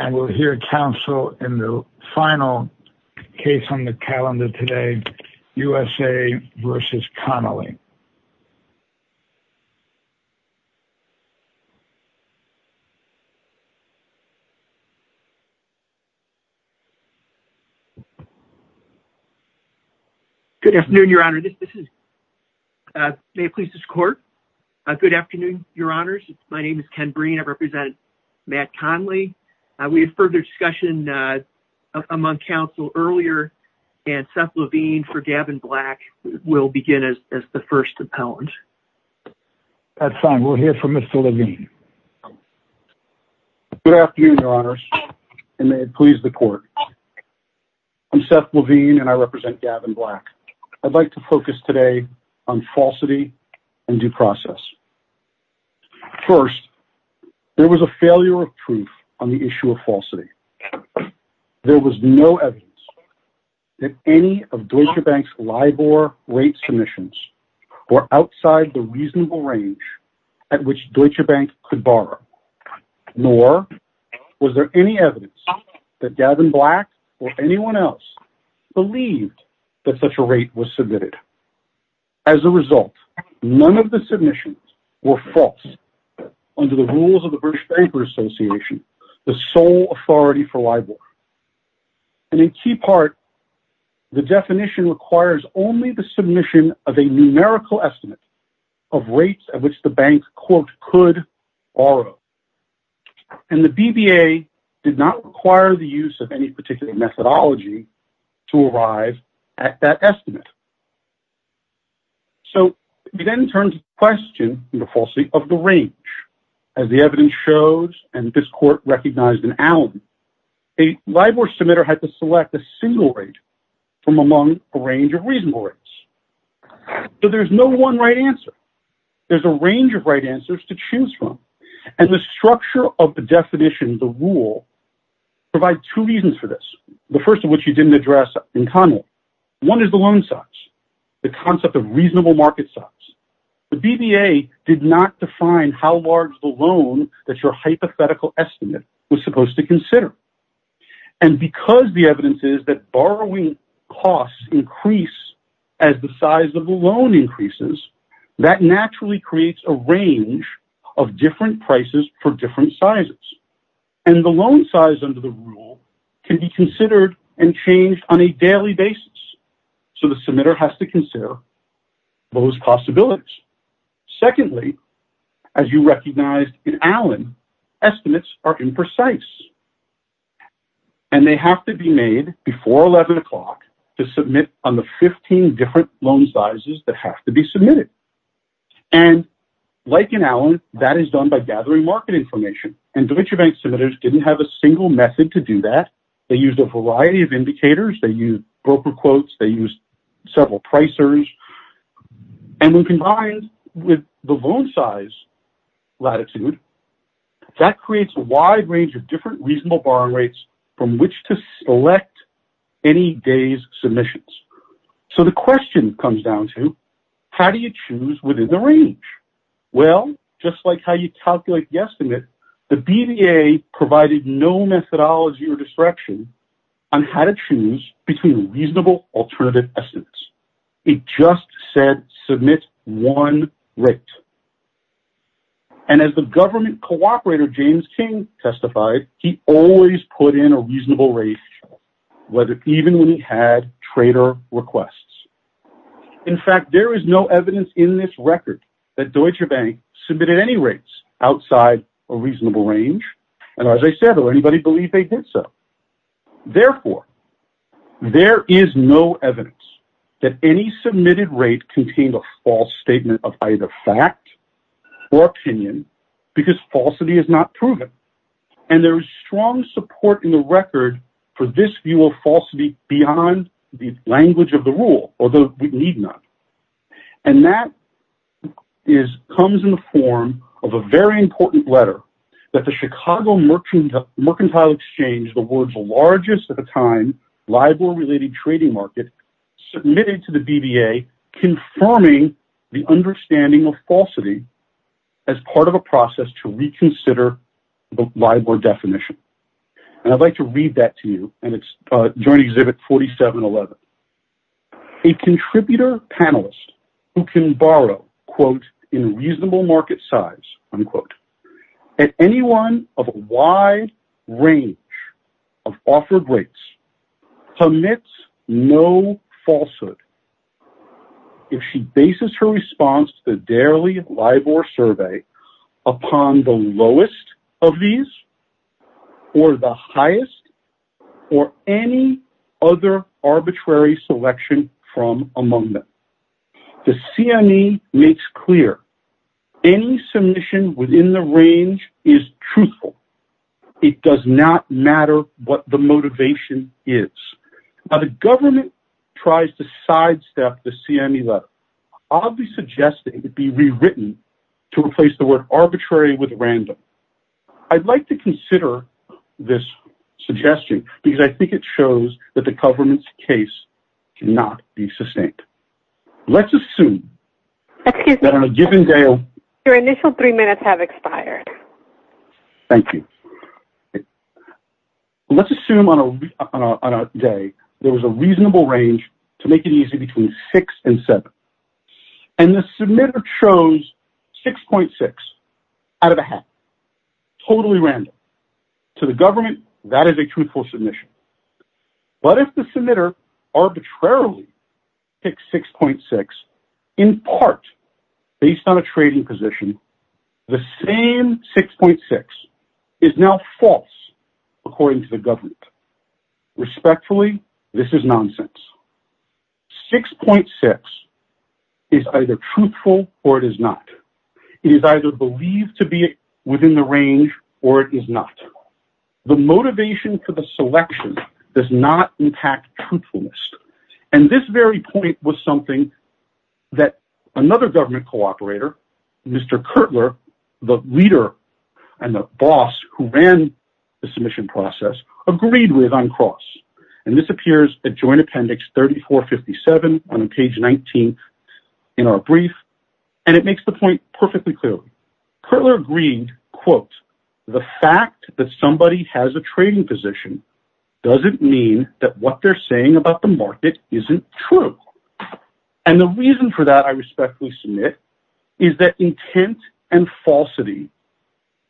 And we'll hear counsel in the final case on the calendar today, U.S.A. v. Connolly. Good afternoon, Your Honor. May it please the Court. Good afternoon, Your Honors. My name is Ken Breen. I represent Matt Connolly. We had further discussion among counsel earlier. And Seth Levine for Gavin Black will begin as the first appellant. That's fine. We'll hear from Mr. Levine. Good afternoon, Your Honors. May it please the Court. I'm Seth Levine and I represent Gavin Black. I'd like to focus today on falsity and due process. First, there was a failure of proof on the issue of falsity. There was no evidence that any of Deutsche Bank's LIBOR rate submissions were outside the reasonable range at which Deutsche Bank could borrow. Nor was there any evidence that Gavin Black or anyone else believed that such a rate was submitted. As a result, none of the submissions were false under the rules of the British Bankers Association, the sole authority for LIBOR. And in key part, the definition requires only the submission of a numerical estimate of rates at which the bank, quote, could borrow. And the BBA did not require the use of any particular methodology to arrive at that estimate. So we then turn to the question of the falsity of the range. As the evidence shows, and this Court recognized in Allen, a LIBOR submitter had to select a single rate from among a range of reasonable rates. So there's no one right answer. There's a range of right answers to choose from. And the structure of the definition, the rule, provides two reasons for this. The first of which you didn't address in common. One is the loan size, the concept of reasonable market size. The BBA did not define how large the loan that your hypothetical estimate was supposed to consider. And because the evidence is that borrowing costs increase as the size of the loan increases, that naturally creates a range of different prices for different sizes. And the loan size under the rule can be considered and changed on a daily basis. So the submitter has to consider those possibilities. Secondly, as you recognized in Allen, estimates are imprecise. And they have to be made before 11 o'clock to submit on the 15 different loan sizes that have to be submitted. And like in Allen, that is done by gathering market information. And DaVinci Bank submitters didn't have a single method to do that. They used a variety of indicators. They used broker quotes. They used several pricers. And when combined with the loan size latitude, that creates a wide range of different reasonable borrowing rates from which to select any day's submissions. So the question comes down to how do you choose within the range? Well, just like how you calculate the estimate, the BBA provided no methodology or direction on how to choose between reasonable alternative estimates. It just said submit one rate. And as the government cooperator James King testified, he always put in a reasonable rate, even when he had trader requests. In fact, there is no evidence in this record that Deutsche Bank submitted any rates outside a reasonable range. And as I said, does anybody believe they did so? Therefore, there is no evidence that any submitted rate contained a false statement of either fact or opinion because falsity is not proven. And there is strong support in the record for this view of falsity beyond the language of the rule, although we need not. And that comes in the form of a very important letter that the Chicago Mercantile Exchange, the world's largest at the time LIBOR-related trading market, submitted to the BBA confirming the understanding of falsity as part of a process to reconsider the LIBOR definition. And I'd like to read that to you, and it's Joint Exhibit 4711. A contributor panelist who can borrow, quote, in reasonable market size, unquote, at anyone of a wide range of offered rates, commits no falsehood if she bases her response to the daily LIBOR survey upon the lowest of these or the highest or any other arbitrary selection from among them. The CME makes clear any submission within the range is truthful. It does not matter what the motivation is. Now, the government tries to sidestep the CME letter. I'll be suggesting it be rewritten to replace the word arbitrary with random. I'd like to consider this suggestion because I think it shows that the government's case cannot be sustained. Let's assume that on a given day... Your initial three minutes have expired. Thank you. Let's assume on a day there was a reasonable range to make it easy between six and seven. And the submitter chose 6.6 out of a half, totally random. To the government, that is a truthful submission. But if the submitter arbitrarily picks 6.6 in part based on a trading position, the same 6.6 is now false, according to the government. Respectfully, this is nonsense. 6.6 is either truthful or it is not. It is either believed to be within the range or it is not. The motivation for the selection does not impact truthfulness. And this very point was something that another government cooperator, Mr. Kertler, the leader and the boss who ran the submission process, agreed with on cross. And this appears at Joint Appendix 3457 on page 19 in our brief. And it makes the point perfectly clear. Kertler agreed, quote, the fact that somebody has a trading position doesn't mean that what they're saying about the market isn't true. And the reason for that, I respectfully submit, is that intent and falsity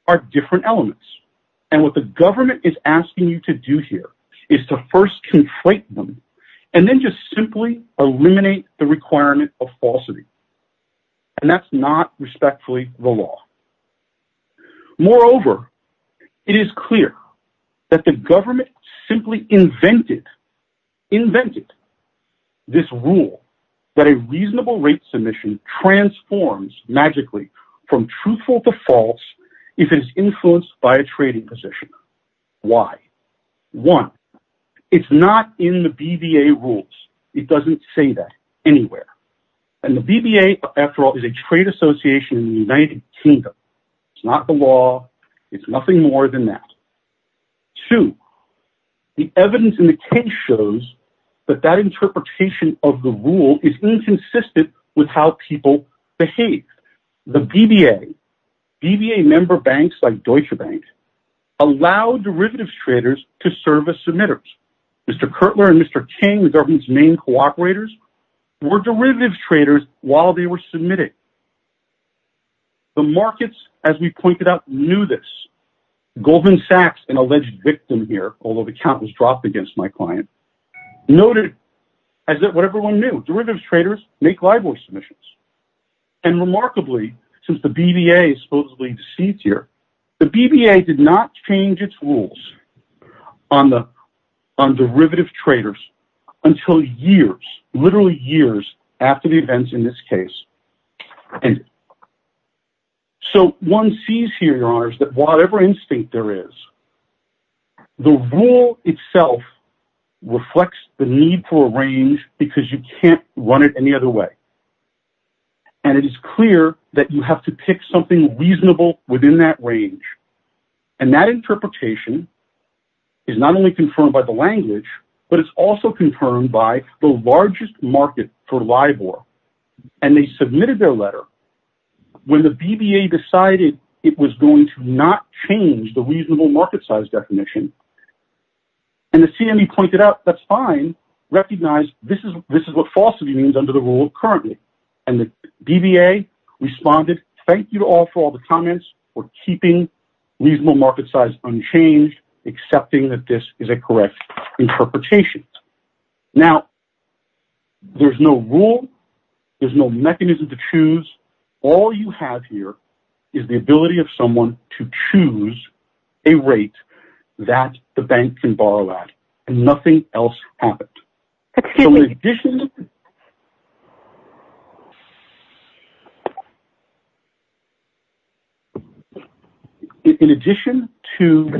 are different elements. And what the government is asking you to do here is to first conflate them and then just simply eliminate the requirement of falsity. And that's not respectfully the law. Moreover, it is clear that the government simply invented this rule that a reasonable rate submission transforms magically from truthful to false if it is influenced by a trading position. Why? One, it's not in the BVA rules. It doesn't say that anywhere. And the BVA, after all, is a trade association in the United Kingdom. It's not the law. It's nothing more than that. Two, the evidence in the case shows that that interpretation of the rule is inconsistent with how people behave. The BVA, BVA member banks like Deutsche Bank, allow derivatives traders to serve as submitters. Mr. Kirtler and Mr. King, the government's main cooperators, were derivatives traders while they were submitting. The markets, as we pointed out, knew this. Goldman Sachs, an alleged victim here, although the count was dropped against my client, noted as what everyone knew. Derivatives traders make LIBOR submissions. And remarkably, since the BVA is supposedly deceased here, the BVA did not change its rules on derivative traders until years, literally years, after the events in this case. So one sees here, Your Honors, that whatever instinct there is, the rule itself reflects the need for a range because you can't run it any other way. And it is clear that you have to pick something reasonable within that range. And that interpretation is not only confirmed by the language, but it's also confirmed by the largest market for LIBOR. And they submitted their letter when the BVA decided it was going to not change the reasonable market size definition. And the CME pointed out, that's fine. Recognize this is what falsity means under the rule currently. And the BVA responded, thank you all for all the comments, for keeping reasonable market size unchanged, accepting that this is a correct interpretation. Now, there's no rule, there's no mechanism to choose. All you have here is the ability of someone to choose a rate that the bank can borrow at. And nothing else happened. Excuse me. In addition to...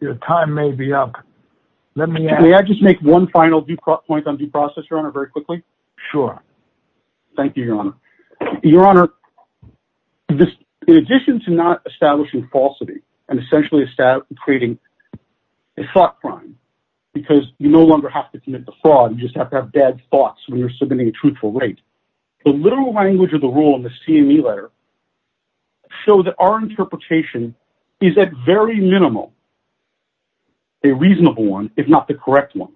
Your time may be up. May I just make one final point on due process, Your Honor, very quickly? Sure. Thank you, Your Honor. Your Honor, in addition to not establishing falsity, and essentially creating a thought crime, because you no longer have to commit the fraud. You just have to have bad thoughts when you're submitting a truthful rate. The literal language of the rule in the CME letter showed that our interpretation is at very minimal, a reasonable one, if not the correct one.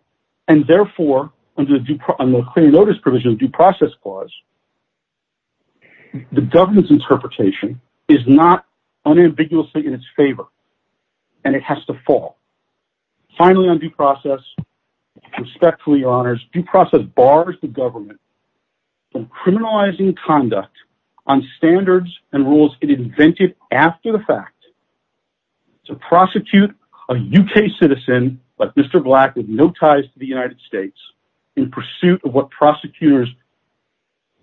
And therefore, under the clear notice provision of due process clause, the government's interpretation is not unambiguously in its favor. And it has to fall. Finally, on due process, respectfully, Your Honors, due process bars the government from criminalizing conduct on standards and rules it invented after the fact to prosecute a UK citizen, like Mr. Black, with no ties to the United States, in pursuit of what prosecutors'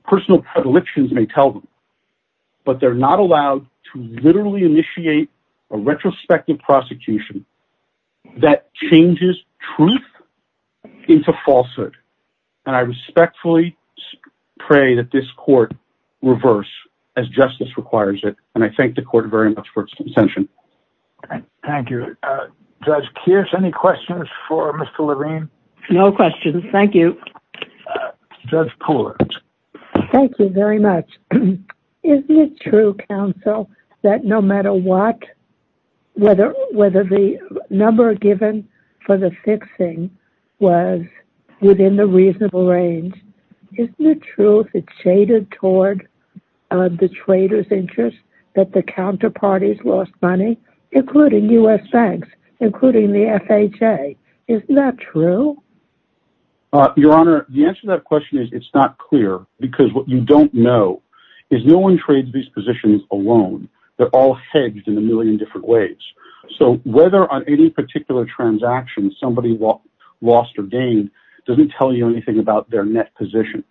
personal predilections may tell them. But they're not allowed to literally initiate a retrospective prosecution that changes truth into falsehood. And I respectfully pray that this court reverse, as justice requires it. And I thank the court very much for its consention. Thank you. Judge Kears, any questions for Mr. Levine? No questions. Thank you. Judge Pooler. Thank you very much. Isn't it true, counsel, that no matter what, whether the number given for the fixing was within the reasonable range, isn't it true that it's shaded toward the trader's interest that the counterparties lost money, including U.S. banks, including the FHA? Isn't that true? Your Honor, the answer to that question is it's not clear, because what you don't know is no one trades these positions alone. They're all hedged in a million different ways. So whether on any particular transaction somebody lost or gained doesn't tell you anything about their net position.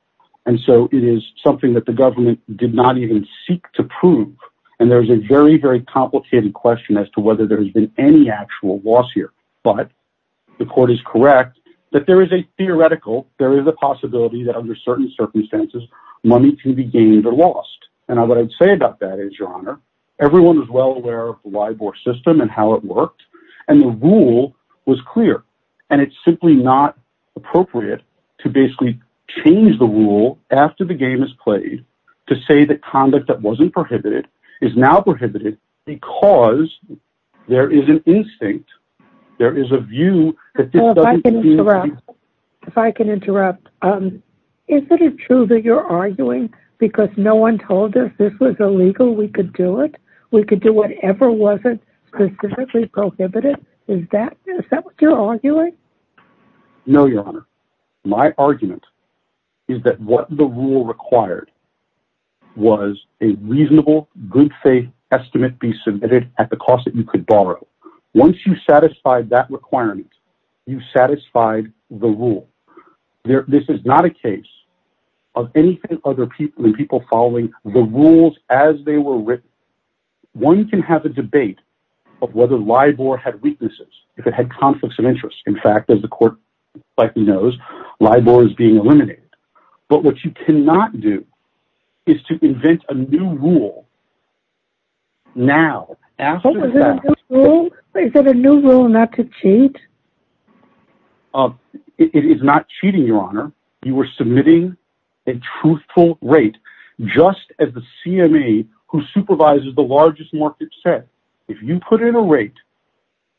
And so it is something that the government did not even seek to prove. And there's a very, very complicated question as to whether there's been any actual loss here. But the court is correct that there is a theoretical, there is a possibility that under certain circumstances money can be gained or lost. And what I'd say about that is, Your Honor, everyone was well aware of the LIBOR system and how it worked, and the rule was clear. And it's simply not appropriate to basically change the rule after the game is played to say that conduct that wasn't prohibited is now prohibited because there is an instinct. There is a view that this doesn't mean... If I can interrupt. Is it true that you're arguing because no one told us this was illegal, we could do it? We could do whatever wasn't specifically prohibited? Is that what you're arguing? No, Your Honor. My argument is that what the rule required was a reasonable good faith estimate be submitted at the cost that you could borrow. Once you satisfied that requirement, you satisfied the rule. This is not a case of anything other than people following the rules as they were written. One can have a debate of whether LIBOR had weaknesses, if it had conflicts of interest. In fact, as the court knows, LIBOR is being eliminated. But what you cannot do is to invent a new rule now. Is there a new rule not to cheat? It is not cheating, Your Honor. You are submitting a truthful rate. Just as the CME who supervises the largest market said, if you put in a rate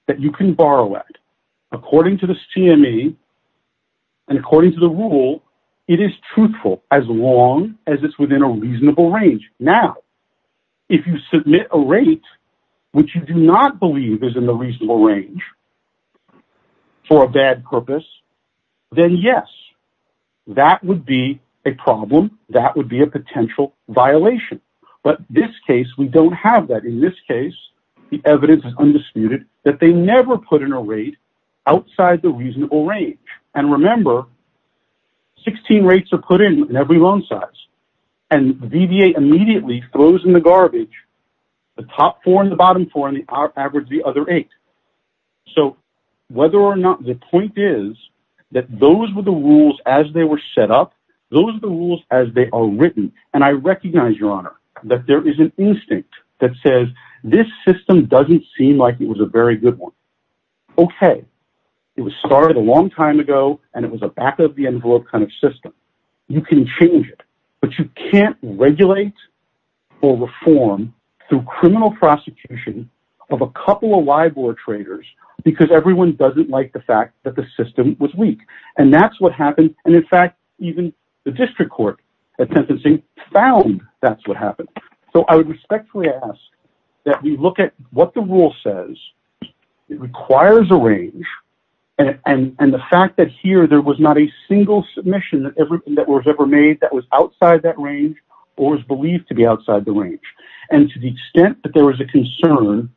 that you can borrow at, according to the CME and according to the rule, it is truthful as long as it's within a reasonable range. Now, if you submit a rate which you do not believe is in the reasonable range for a bad purpose, then yes, that would be a problem. That would be a potential violation. But this case, we don't have that. In this case, the evidence is undisputed that they never put in a rate outside the reasonable range. And remember, 16 rates are put in every loan size. And VBA immediately throws in the garbage the top four and the bottom four and averages the other eight. So, whether or not the point is that those were the rules as they were set up, those are the rules as they are written. And I recognize, Your Honor, that there is an instinct that says this system doesn't seem like it was a very good one. Okay, it was started a long time ago and it was a back of the envelope kind of system. You can change it, but you can't regulate or reform through criminal prosecution of a couple of LIBOR traders because everyone doesn't like the fact that the system was weak. And that's what happened. And in fact, even the district court at sentencing found that's what happened. So, I would respectfully ask that we look at what the rule says. It requires a range. And the fact that here there was not a single submission that was ever made that was outside that range or is believed to be outside the range. And to the extent that there was a concern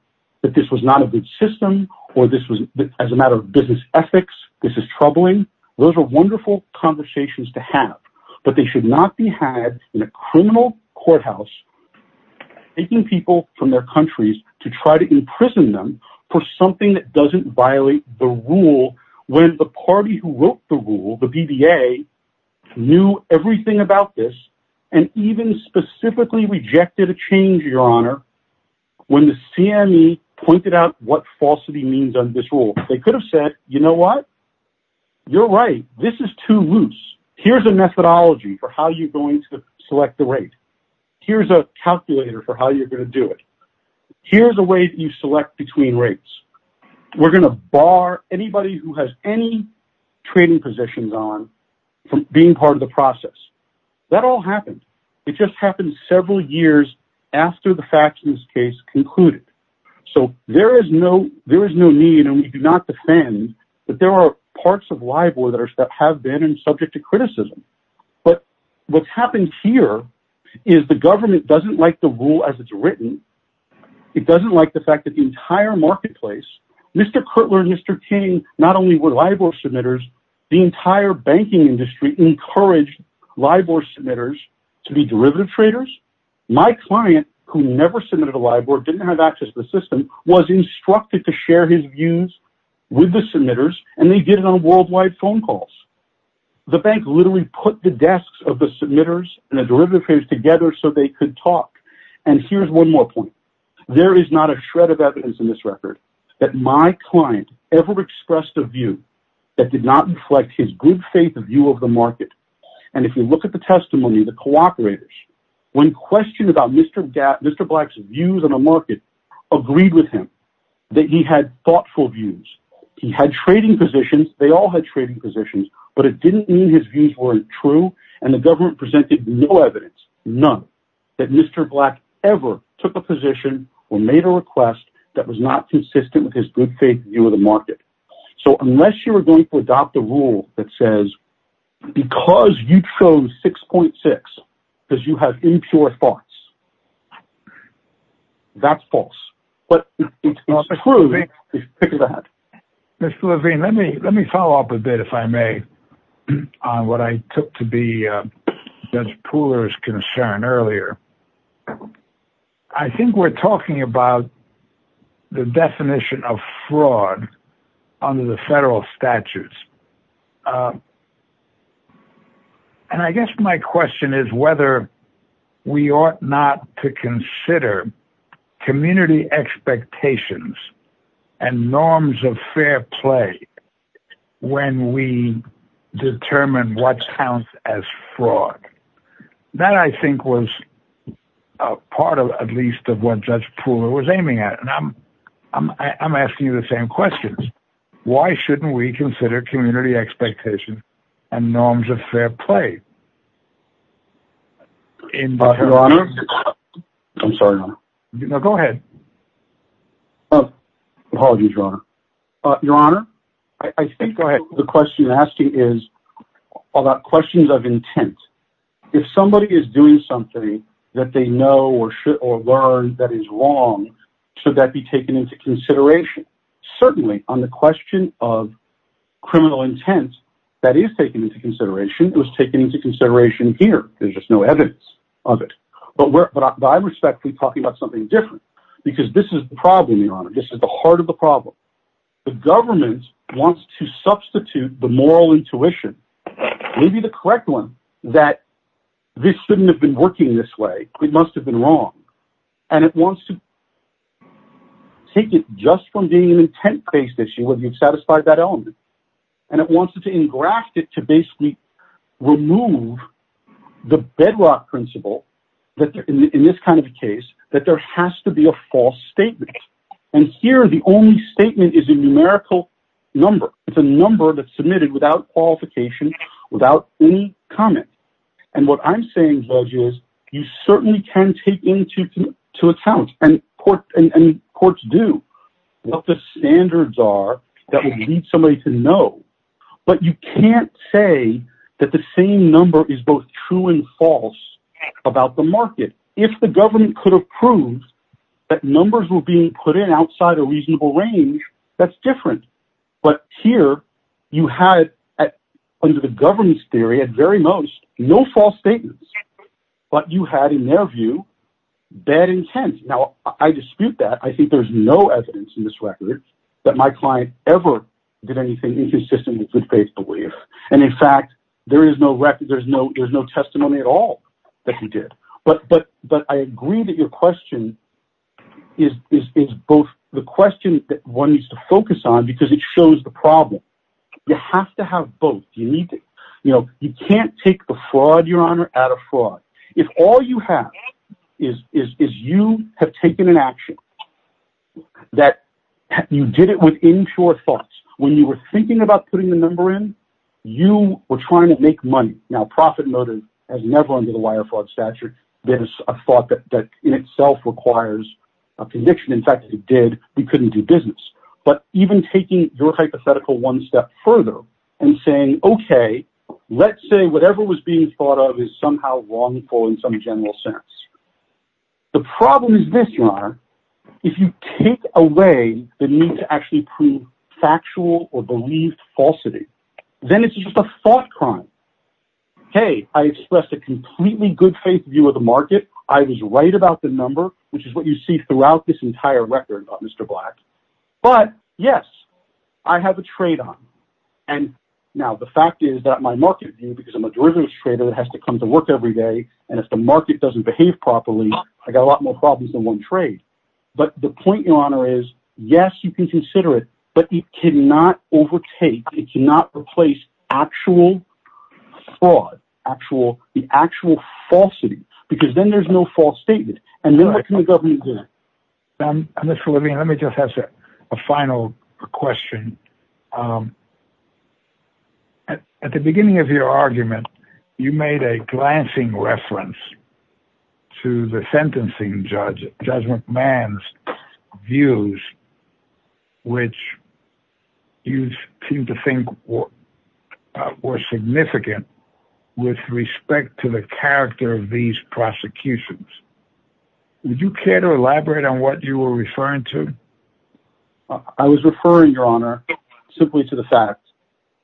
that this was not a good system or this was as a matter of business ethics, this is troubling, those are wonderful conversations to have. But they should not be had in a criminal courthouse taking people from their countries to try to imprison them for something that doesn't violate the rule. When the party who wrote the rule, the BBA, knew everything about this and even specifically rejected a change, Your Honor, when the CME pointed out what falsity means on this rule. They could have said, you know what? You're right. This is too loose. Here's a methodology for how you're going to select the rate. Here's a calculator for how you're going to do it. Here's a way that you select between rates. We're going to bar anybody who has any trading positions on from being part of the process. That all happened. It just happened several years after the facts in this case concluded. So there is no need, and we do not defend, but there are parts of LIBOR that have been subject to criticism. But what's happened here is the government doesn't like the rule as it's written. It doesn't like the fact that the entire marketplace, Mr. Cutler, Mr. King, not only were LIBOR submitters, the entire banking industry encouraged LIBOR submitters to be derivative traders. My client, who never submitted a LIBOR, didn't have access to the system, was instructed to share his views with the submitters, and they did it on worldwide phone calls. The bank literally put the desks of the submitters and the derivative traders together so they could talk. And here's one more point. There is not a shred of evidence in this record that my client ever expressed a view that did not reflect his good faith view of the market. And if you look at the testimony, the cooperators, when questioned about Mr. Black's views on the market, agreed with him that he had thoughtful views. He had trading positions. They all had trading positions, but it didn't mean his views weren't true, and the government presented no evidence, none, that Mr. Black ever took a position or made a request that was not consistent with his good faith view of the market. So unless you're going to adopt a rule that says, because you chose 6.6, because you have impure thoughts, that's false. But if it's not true, pick it up. Mr. Levine, let me follow up a bit, if I may, on what I took to be Judge Pooler's concern earlier. I think we're talking about the definition of fraud under the federal statutes. And I guess my question is whether we ought not to consider community expectations and norms of fair play when we determine what counts as fraud. That, I think, was part, at least, of what Judge Pooler was aiming at. And I'm asking you the same questions. Why shouldn't we consider community expectations and norms of fair play? I'm sorry, Your Honor. No, go ahead. Apologies, Your Honor. Your Honor, I think the question you're asking is about questions of intent. If somebody is doing something that they know or learn that is wrong, should that be taken into consideration? Certainly, on the question of criminal intent, that is taken into consideration. It was taken into consideration here. There's just no evidence of it. But I respect you talking about something different, because this is the problem, Your Honor. This is the heart of the problem. The government wants to substitute the moral intuition, maybe the correct one, that this shouldn't have been working this way. It must have been wrong. And it wants to take it just from being an intent-based issue, whether you've satisfied that element. And it wants to engraft it to basically remove the bedrock principle that, in this kind of a case, that there has to be a false statement. And here, the only statement is a numerical number. It's a number that's submitted without qualification, without any comment. And what I'm saying, Judge, is you certainly can take into account, and courts do, what the standards are that will lead somebody to know. But you can't say that the same number is both true and false about the market. If the government could have proved that numbers were being put in outside a reasonable range, that's different. But here, you had, under the governance theory at very most, no false statements. But you had, in their view, bad intent. Now, I dispute that. I think there's no evidence in this record that my client ever did anything inconsistent with good faith belief. And, in fact, there is no record, there's no testimony at all that he did. But I agree that your question is both the question that one needs to focus on because it shows the problem. You have to have both. You can't take a fraud, Your Honor, out of fraud. If all you have is you have taken an action that you did it within your thoughts, when you were thinking about putting the number in, you were trying to make money. Now, profit motive has never under the wire fraud statute been a thought that in itself requires a conviction. In fact, if it did, we couldn't do business. But even taking your hypothetical one step further and saying, okay, let's say whatever was being thought of is somehow wrongful in some general sense. If you take away the need to actually prove factual or believed falsity, then it's just a thought crime. Hey, I expressed a completely good faith view of the market. I was right about the number, which is what you see throughout this entire record, Mr. Black. But, yes, I have a trade on. Now, the fact is that my market view, because I'm a derivatives trader that has to come to work every day, and if the market doesn't behave properly, I got a lot more problems than one trade. But the point, Your Honor, is yes, you can consider it, but it cannot overtake. It cannot replace actual fraud, the actual falsity, because then there's no false statement. And then what can the government do? Mr. Levine, let me just ask a final question. At the beginning of your argument, you made a glancing reference to the sentencing judge, Judge McMahon's views, which you seem to think were significant with respect to the character of these prosecutions. Would you care to elaborate on what you were referring to? I was referring, Your Honor, simply to the fact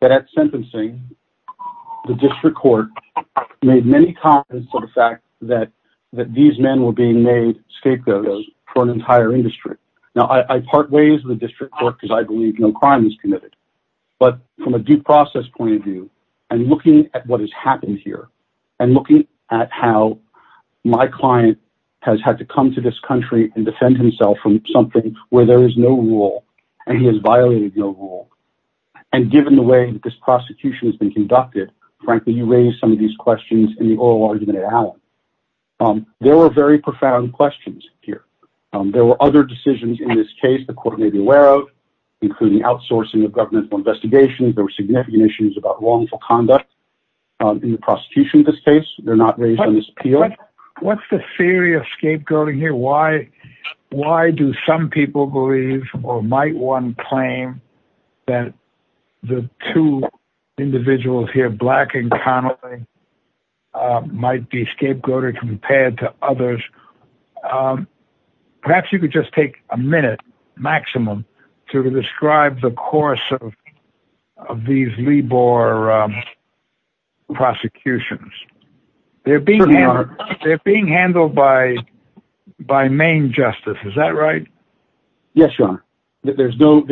that at sentencing, the district court made many comments to the fact that these men were being made scapegoats for an entire industry. Now, I part ways with the district court because I believe no crime was committed. But from a due process point of view, and looking at what has happened here, and looking at how my client has had to come to this country and defend himself from something where there is no rule, and he has violated no rule, and given the way this prosecution has been conducted, frankly, you raise some of these questions in the oral argument at Allen. There were very profound questions here. There were other decisions in this case the court may be aware of, including outsourcing of governmental investigations. There were significant issues about wrongful conduct in the prosecution in this case. They're not raised on this appeal. What's the theory of scapegoating here? Why do some people believe, or might one claim, that the two individuals here, Black and Connelly, might be scapegoated compared to others? Perhaps you could just take a minute, maximum, to describe the course of these Lebor prosecutions. They're being handled by Maine Justice, is that right? Yes, Your Honor. There's no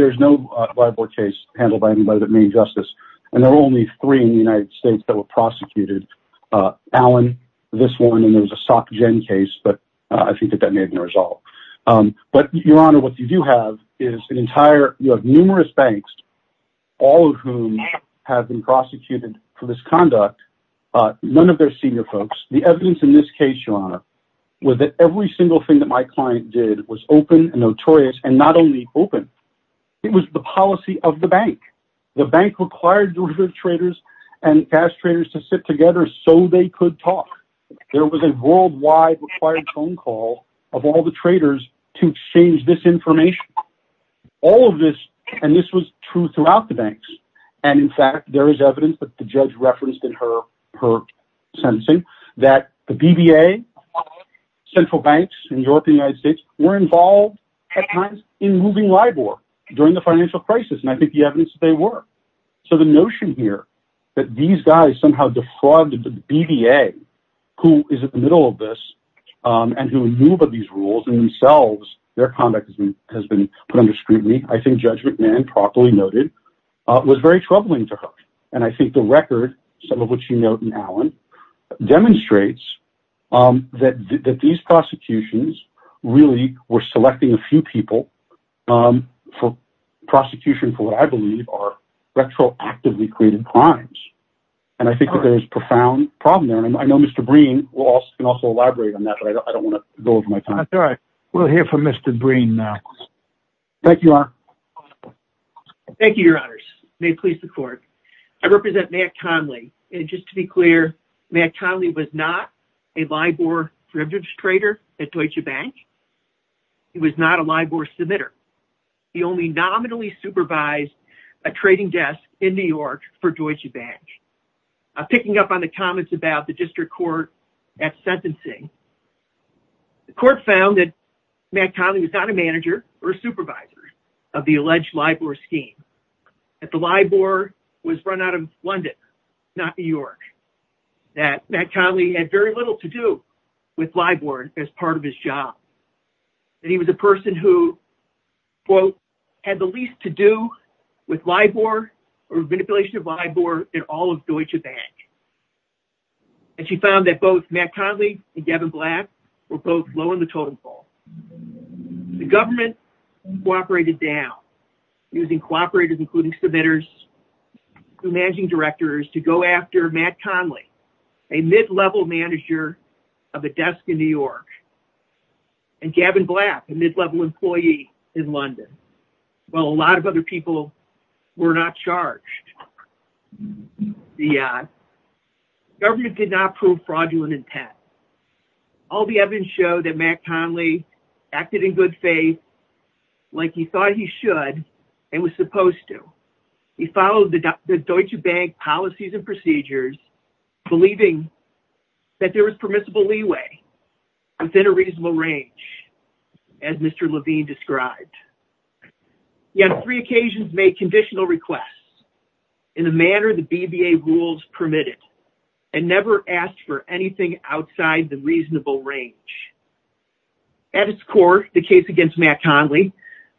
Lebor case handled by anybody at Maine Justice. And there are only three in the United States that were prosecuted. Allen, this one, and there was a Sock Jen case, but I think that that may have been resolved. But, Your Honor, what you do have is numerous banks, all of whom have been prosecuted for this conduct, but none of their senior folks. The evidence in this case, Your Honor, was that every single thing that my client did was open and notorious, and not only open, it was the policy of the bank. The bank required derivative traders and cash traders to sit together so they could talk. There was a worldwide required phone call of all the traders to exchange this information. All of this, and this was true throughout the banks, and, in fact, there is evidence that the judge referenced in her sentencing that the BBA, central banks in Europe and the United States, were involved, at times, in moving Lebor during the financial crisis. And I think the evidence is they were. So the notion here that these guys somehow defrauded the BBA, who is in the middle of this, and who knew about these rules and themselves, their conduct has been put under scrutiny, I think Judge McMahon properly noted, was very troubling to her. And I think the record, some of which you note in Allen, demonstrates that these prosecutions really were selecting a few people for prosecution for what I believe are retroactively created crimes. And I think that there is a profound problem there. And I know Mr. Breen can also elaborate on that, but I don't want to go over my time. That's all right. We'll hear from Mr. Breen now. Thank you, Your Honor. Thank you, Your Honors. May it please the Court. I represent Matt Conley. And just to be clear, Matt Conley was not a Lebor derivatives trader at Deutsche Bank. He was not a Lebor submitter. He only nominally supervised a trading desk in New York for Deutsche Bank. Picking up on the comments about the district court at sentencing, the court found that Matt Conley was not a manager or a supervisor of the alleged Lebor scheme, that the Lebor was run out of London, not New York, that Matt Conley had very little to do with Lebor as part of his job, that he was a person who, quote, had the least to do with Lebor or manipulation of Lebor in all of Deutsche Bank. And she found that both Matt Conley and Gavin Black were both low in the totem pole. The government cooperated down, using cooperators, including submitters, managing directors, to go after Matt Conley, a mid-level manager of a desk in New York, and Gavin Black, a mid-level employee in London. While a lot of other people were not charged, the government did not prove fraudulent intent. All the evidence showed that Matt Conley acted in good faith, like he thought he should and was supposed to. He followed the Deutsche Bank policies and procedures, believing that there was permissible leeway within a reasonable range, as Mr. Levine described. He on three occasions made conditional requests, in the manner the BBA rules permitted, and never asked for anything outside the reasonable range. At its core, the case against Matt Conley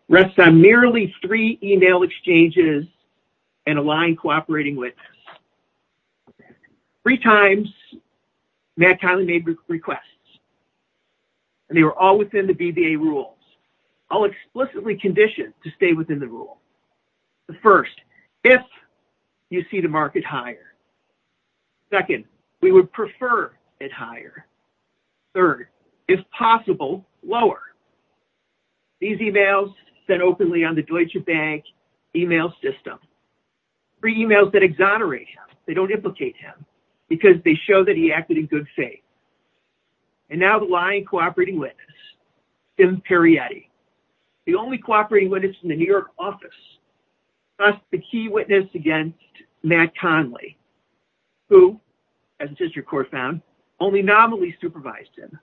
rests on merely three email exchanges and a lying cooperating witness. Three times, Matt Conley made requests, and they were all within the BBA rules, all explicitly conditioned to stay within the rule. The first, if you see the market higher. Second, we would prefer it higher. Third, if possible, lower. These emails said openly on the Deutsche Bank email system. Three emails that exonerate him, they don't implicate him, because they show that he acted in good faith. And now the lying cooperating witness, Tim Perietti, the only cooperating witness in the New York office. Thus, the key witness against Matt Conley, who, as the District Court found, only nominally supervised him.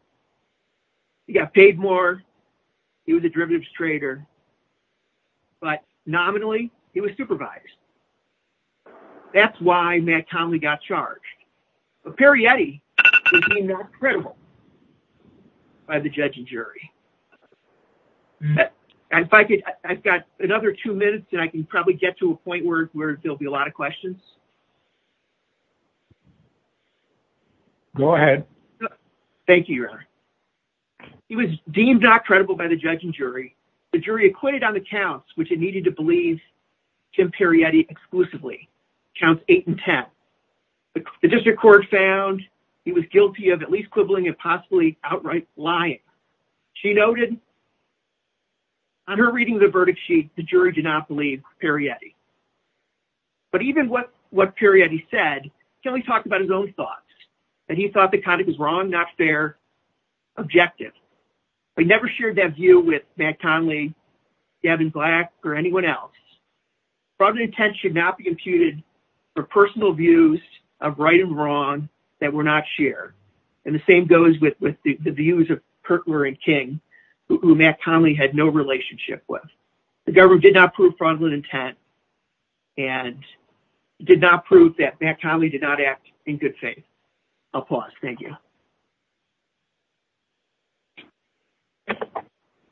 He got paid more, he was a derivatives trader. But nominally, he was supervised. That's why Matt Conley got charged. But Perietti was deemed not credible by the judge and jury. If I could, I've got another two minutes, and I can probably get to a point where there will be a lot of questions. Go ahead. Thank you, Your Honor. He was deemed not credible by the judge and jury. The jury acquitted on the counts which it needed to believe Tim Perietti exclusively, counts 8 and 10. The District Court found he was guilty of at least quibbling and possibly outright lying. She noted on her reading of the verdict sheet, the jury did not believe Perietti. But even what Perietti said, Conley talked about his own thoughts, that he thought the conduct was wrong, not fair, objective. He never shared that view with Matt Conley, Gavin Black, or anyone else. Fraudulent intent should not be imputed for personal views of right and wrong that were not shared. And the same goes with the views of Kirtler and King, who Matt Conley had no relationship with. The government did not prove fraudulent intent and did not prove that Matt Conley did not act in good faith. I'll pause. Thank you.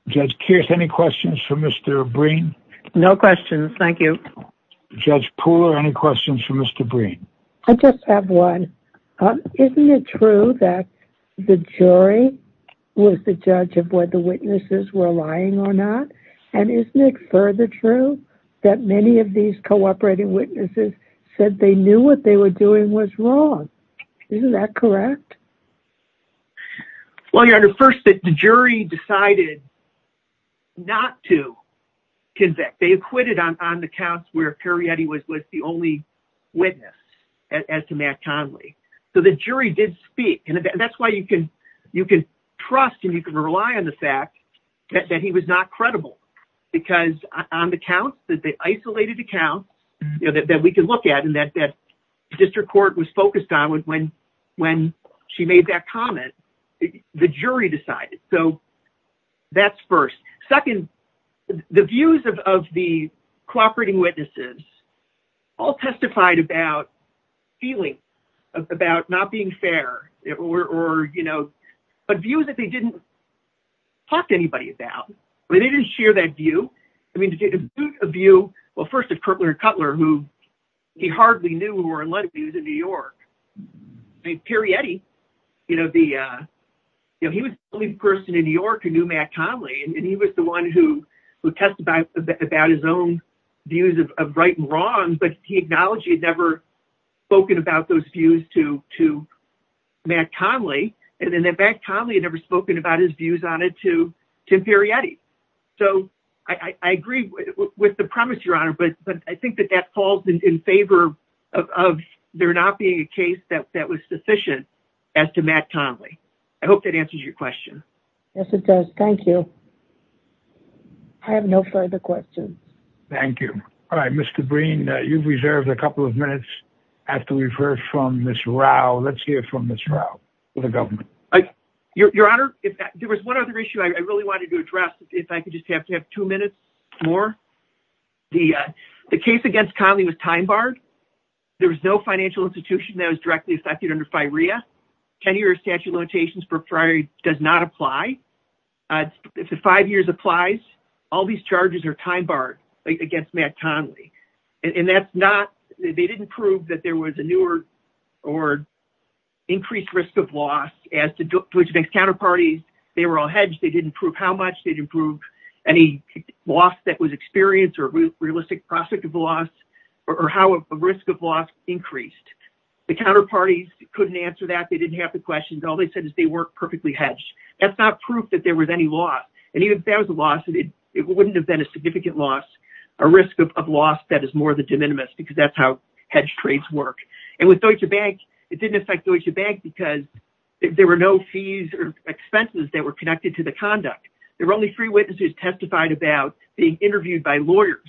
Judge Kearse, any questions for Mr. Breen? No questions. Thank you. Judge Pooler, any questions for Mr. Breen? I just have one. Isn't it true that the jury was the judge of whether witnesses were lying or not? And isn't it further true that many of these cooperating witnesses said they knew what they were doing was wrong? Isn't that correct? Well, Your Honor, first, the jury decided not to convict. They acquitted on the counts where Perrietti was the only witness, as to Matt Conley. So the jury did speak. And that's why you can trust and you can rely on the fact that he was not credible. Because on the counts, the isolated accounts that we can look at and that district court was focused on, when she made that comment, the jury decided. So that's first. Second, the views of the cooperating witnesses all testified about feelings, about not being fair. But views that they didn't talk to anybody about. I mean, they didn't share that view. I mean, to get a view, well, first of Koeppler and Cutler, who he hardly knew were in light of views in New York. I mean, Perrietti, you know, he was the only person in New York who knew Matt Conley. And he was the one who testified about his own views of right and wrong. But he acknowledged he had never spoken about those views to Matt Conley. And then Matt Conley had never spoken about his views on it to Tim Perrietti. So I agree with the premise, Your Honor. But I think that that falls in favor of there not being a case that was sufficient as to Matt Conley. I hope that answers your question. Yes, it does. Thank you. I have no further questions. Thank you. All right, Ms. Cabreen, you've reserved a couple of minutes after we've heard from Ms. Rao. Let's hear from Ms. Rao for the government. Your Honor, there was one other issue I really wanted to address, if I could just have two minutes more. The case against Conley was time barred. There was no financial institution that was directly affected under FIREA. Tenure or statute of limitations does not apply. If the five years applies, all these charges are time barred against Matt Conley. And that's not – they didn't prove that there was a newer or increased risk of loss as to which makes counterparties. They were all hedged. They didn't prove how much. They didn't prove any loss that was experienced or realistic prospect of loss or how a risk of loss increased. The counterparties couldn't answer that. They didn't have the questions. All they said is they weren't perfectly hedged. That's not proof that there was any loss. And even if there was a loss, it wouldn't have been a significant loss, a risk of loss that is more than de minimis because that's how hedged trades work. And with Deutsche Bank, it didn't affect Deutsche Bank because there were no fees or expenses that were connected to the conduct. There were only three witnesses testified about being interviewed by lawyers.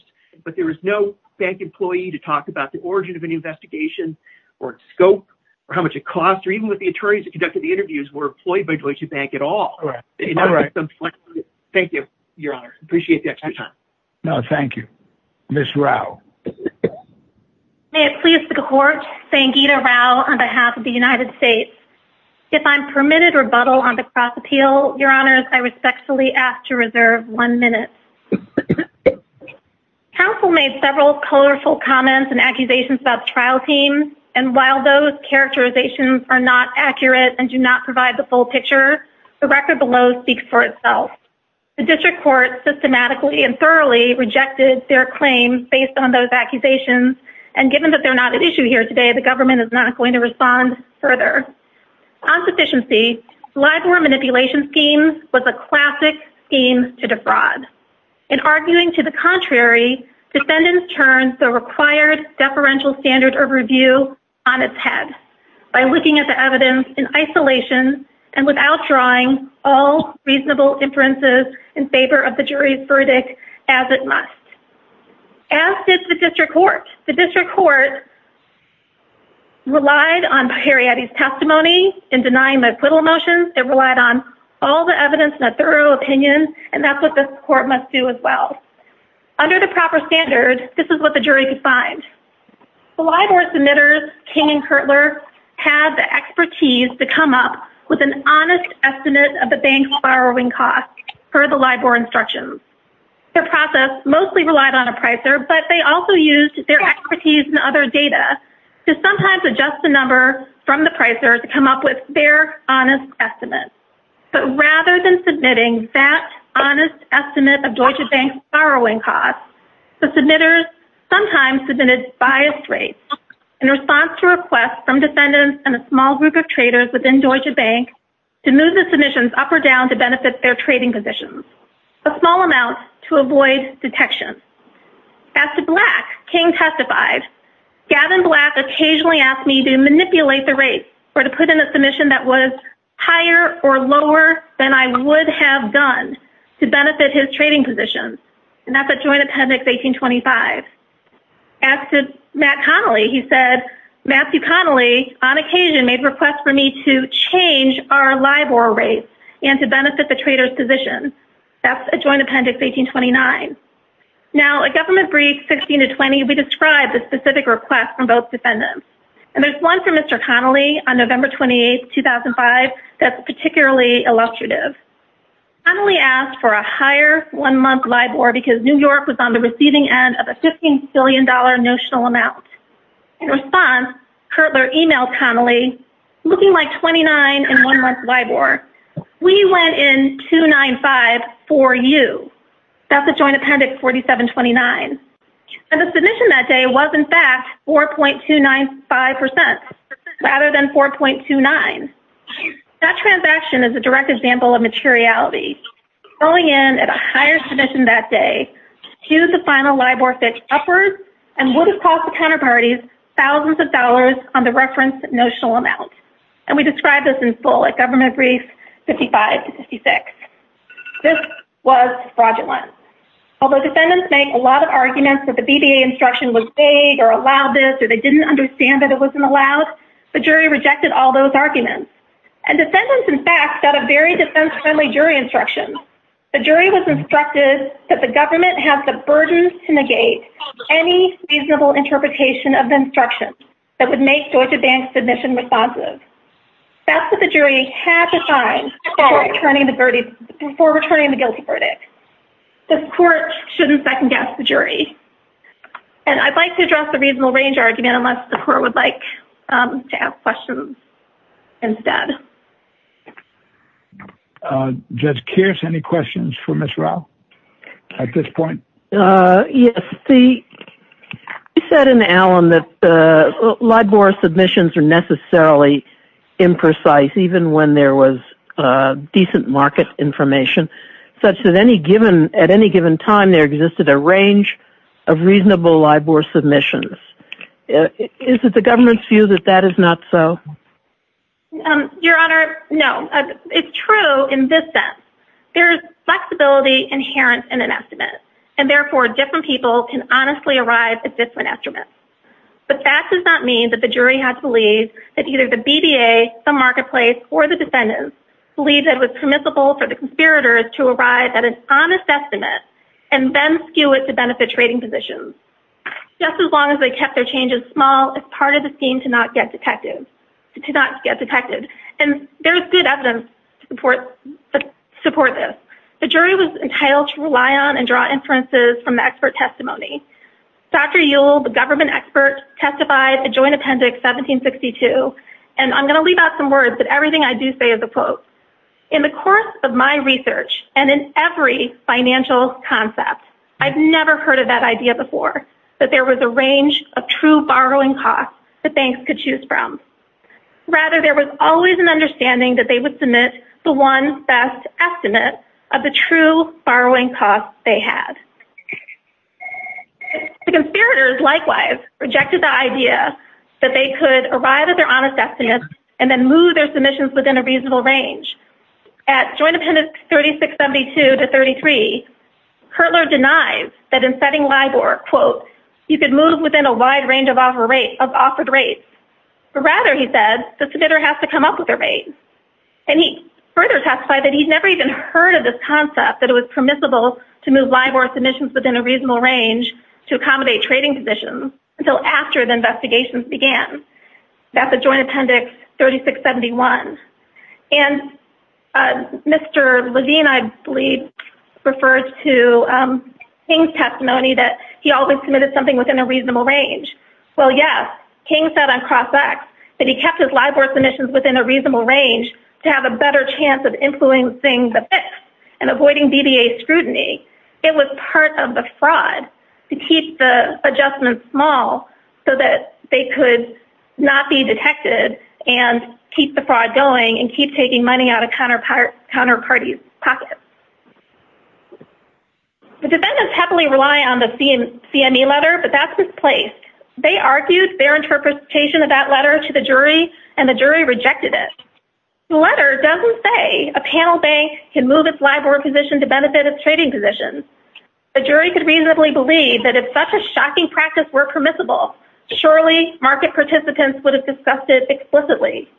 But there was no bank employee to talk about the origin of any investigation or scope or how much it cost. Even with the attorneys that conducted the interviews were employed by Deutsche Bank at all. Thank you, Your Honor. I appreciate the extra time. No, thank you. Ms. Rao. May it please the court, Sangita Rao on behalf of the United States. If I'm permitted rebuttal on the cross-appeal, Your Honors, I respectfully ask to reserve one minute. Counsel made several colorful comments and accusations about the trial team. And while those characterizations are not accurate and do not provide the full picture, the record below speaks for itself. The district court systematically and thoroughly rejected their claims based on those accusations. And given that they're not an issue here today, the government is not going to respond further. On sufficiency, liveware manipulation schemes was a classic scheme to defraud. In arguing to the contrary, defendants turned the required deferential standard of review on its head. By looking at the evidence in isolation and without drawing all reasonable inferences in favor of the jury's verdict as it must. As did the district court. The district court relied on Heriady's testimony in denying the acquittal motions. It relied on all the evidence and a thorough opinion. And that's what the court must do as well. Under the proper standard, this is what the jury could find. The liveware submitters, King and Kertler, had the expertise to come up with an honest estimate of the bank's borrowing costs for the liveware instructions. Their process mostly relied on a pricer, but they also used their expertise and other data to sometimes adjust the number from the pricer to come up with their honest estimate. But rather than submitting that honest estimate of Deutsche Bank's borrowing costs, the submitters sometimes submitted biased rates in response to requests from defendants and a small group of traders within Deutsche Bank to move the submissions up or down to benefit their trading positions. A small amount to avoid detection. As to Black, King testified, Gavin Black occasionally asked me to manipulate the rates or to put in a submission that was higher or lower than I would have done to benefit his trading positions. And that's at Joint Appendix 1825. As to Matt Connolly, he said, Matthew Connolly on occasion made requests for me to change our LIBOR rates and to benefit the trader's position. That's at Joint Appendix 1829. Now, at Government Briefs 16 to 20, we describe the specific requests from both defendants. And there's one from Mr. Connolly on November 28, 2005, that's particularly illustrative. Connolly asked for a higher one-month LIBOR because New York was on the receiving end of a $15 billion notional amount. In response, Kirtler emailed Connolly, looking like 29 in one-month LIBOR, we went in 295 for you. That's at Joint Appendix 4729. And the submission that day was, in fact, 4.295% rather than 4.29. That transaction is a direct example of materiality. Going in at a higher submission that day skews the final LIBOR fit upwards and would have cost the counterparties thousands of dollars on the referenced notional amount. And we describe this in full at Government Briefs 55 to 56. This was fraudulent. Although defendants make a lot of arguments that the BBA instruction was vague or allowed this or they didn't understand that it wasn't allowed, the jury rejected all those arguments. And defendants, in fact, got a very defense-friendly jury instruction. The jury was instructed that the government has the burden to negate any reasonable interpretation of the instruction that would make Deutsche Bank's submission responsive. That's what the jury had to find before returning the guilty verdict. The court shouldn't second-guess the jury. And I'd like to address the reasonable range argument unless the court would like to ask questions instead. Judge Kears, any questions for Ms. Rao at this point? Yes. You said in Allen that LIBOR submissions are necessarily imprecise even when there was decent market information such that at any given time there existed a range of reasonable LIBOR submissions. Is it the government's view that that is not so? Your Honor, no. It's true in this sense. There's flexibility inherent in an estimate. And, therefore, different people can honestly arrive at different estimates. But that does not mean that the jury had to believe that either the BDA, the marketplace, or the defendants believed that it was permissible for the conspirators to arrive at an honest estimate and then skew it to benefit trading positions, just as long as they kept their changes small as part of the scheme to not get detected. And there's good evidence to support this. The jury was entitled to rely on and draw inferences from the expert testimony. Dr. Yule, the government expert, testified at Joint Appendix 1762. And I'm going to leave out some words, but everything I do say is a quote. In the course of my research and in every financial concept, I've never heard of that idea before, that there was a range of true borrowing costs that banks could choose from. Rather, there was always an understanding that they would submit the one best estimate of the true borrowing costs they had. The conspirators, likewise, rejected the idea that they could arrive at their honest estimates and then move their submissions within a reasonable range. At Joint Appendix 3672 to 33, Kertler denies that in setting LIBOR, quote, you could move within a wide range of offered rates. Rather, he said, the submitter has to come up with a rate. And he further testified that he's never even heard of this concept, that it was permissible to move LIBOR submissions within a reasonable range to accommodate trading positions until after the investigations began. That's at Joint Appendix 3671. And Mr. Levine, I believe, refers to King's testimony that he always submitted something within a reasonable range. Well, yes, King said on Cross-X that he kept his LIBOR submissions within a reasonable range to have a better chance of influencing the fix and avoiding BBA scrutiny. It was part of the fraud to keep the adjustments small so that they could not be detected and keep the fraud going and keep taking money out of counterparty's pockets. The defendants happily rely on the CME letter, but that's misplaced. They argued their interpretation of that letter to the jury, and the jury rejected it. The letter doesn't say a panel bank can move its LIBOR position to benefit its trading position. The jury could reasonably believe that if such a shocking practice were permissible, surely market participants would have discussed it explicitly.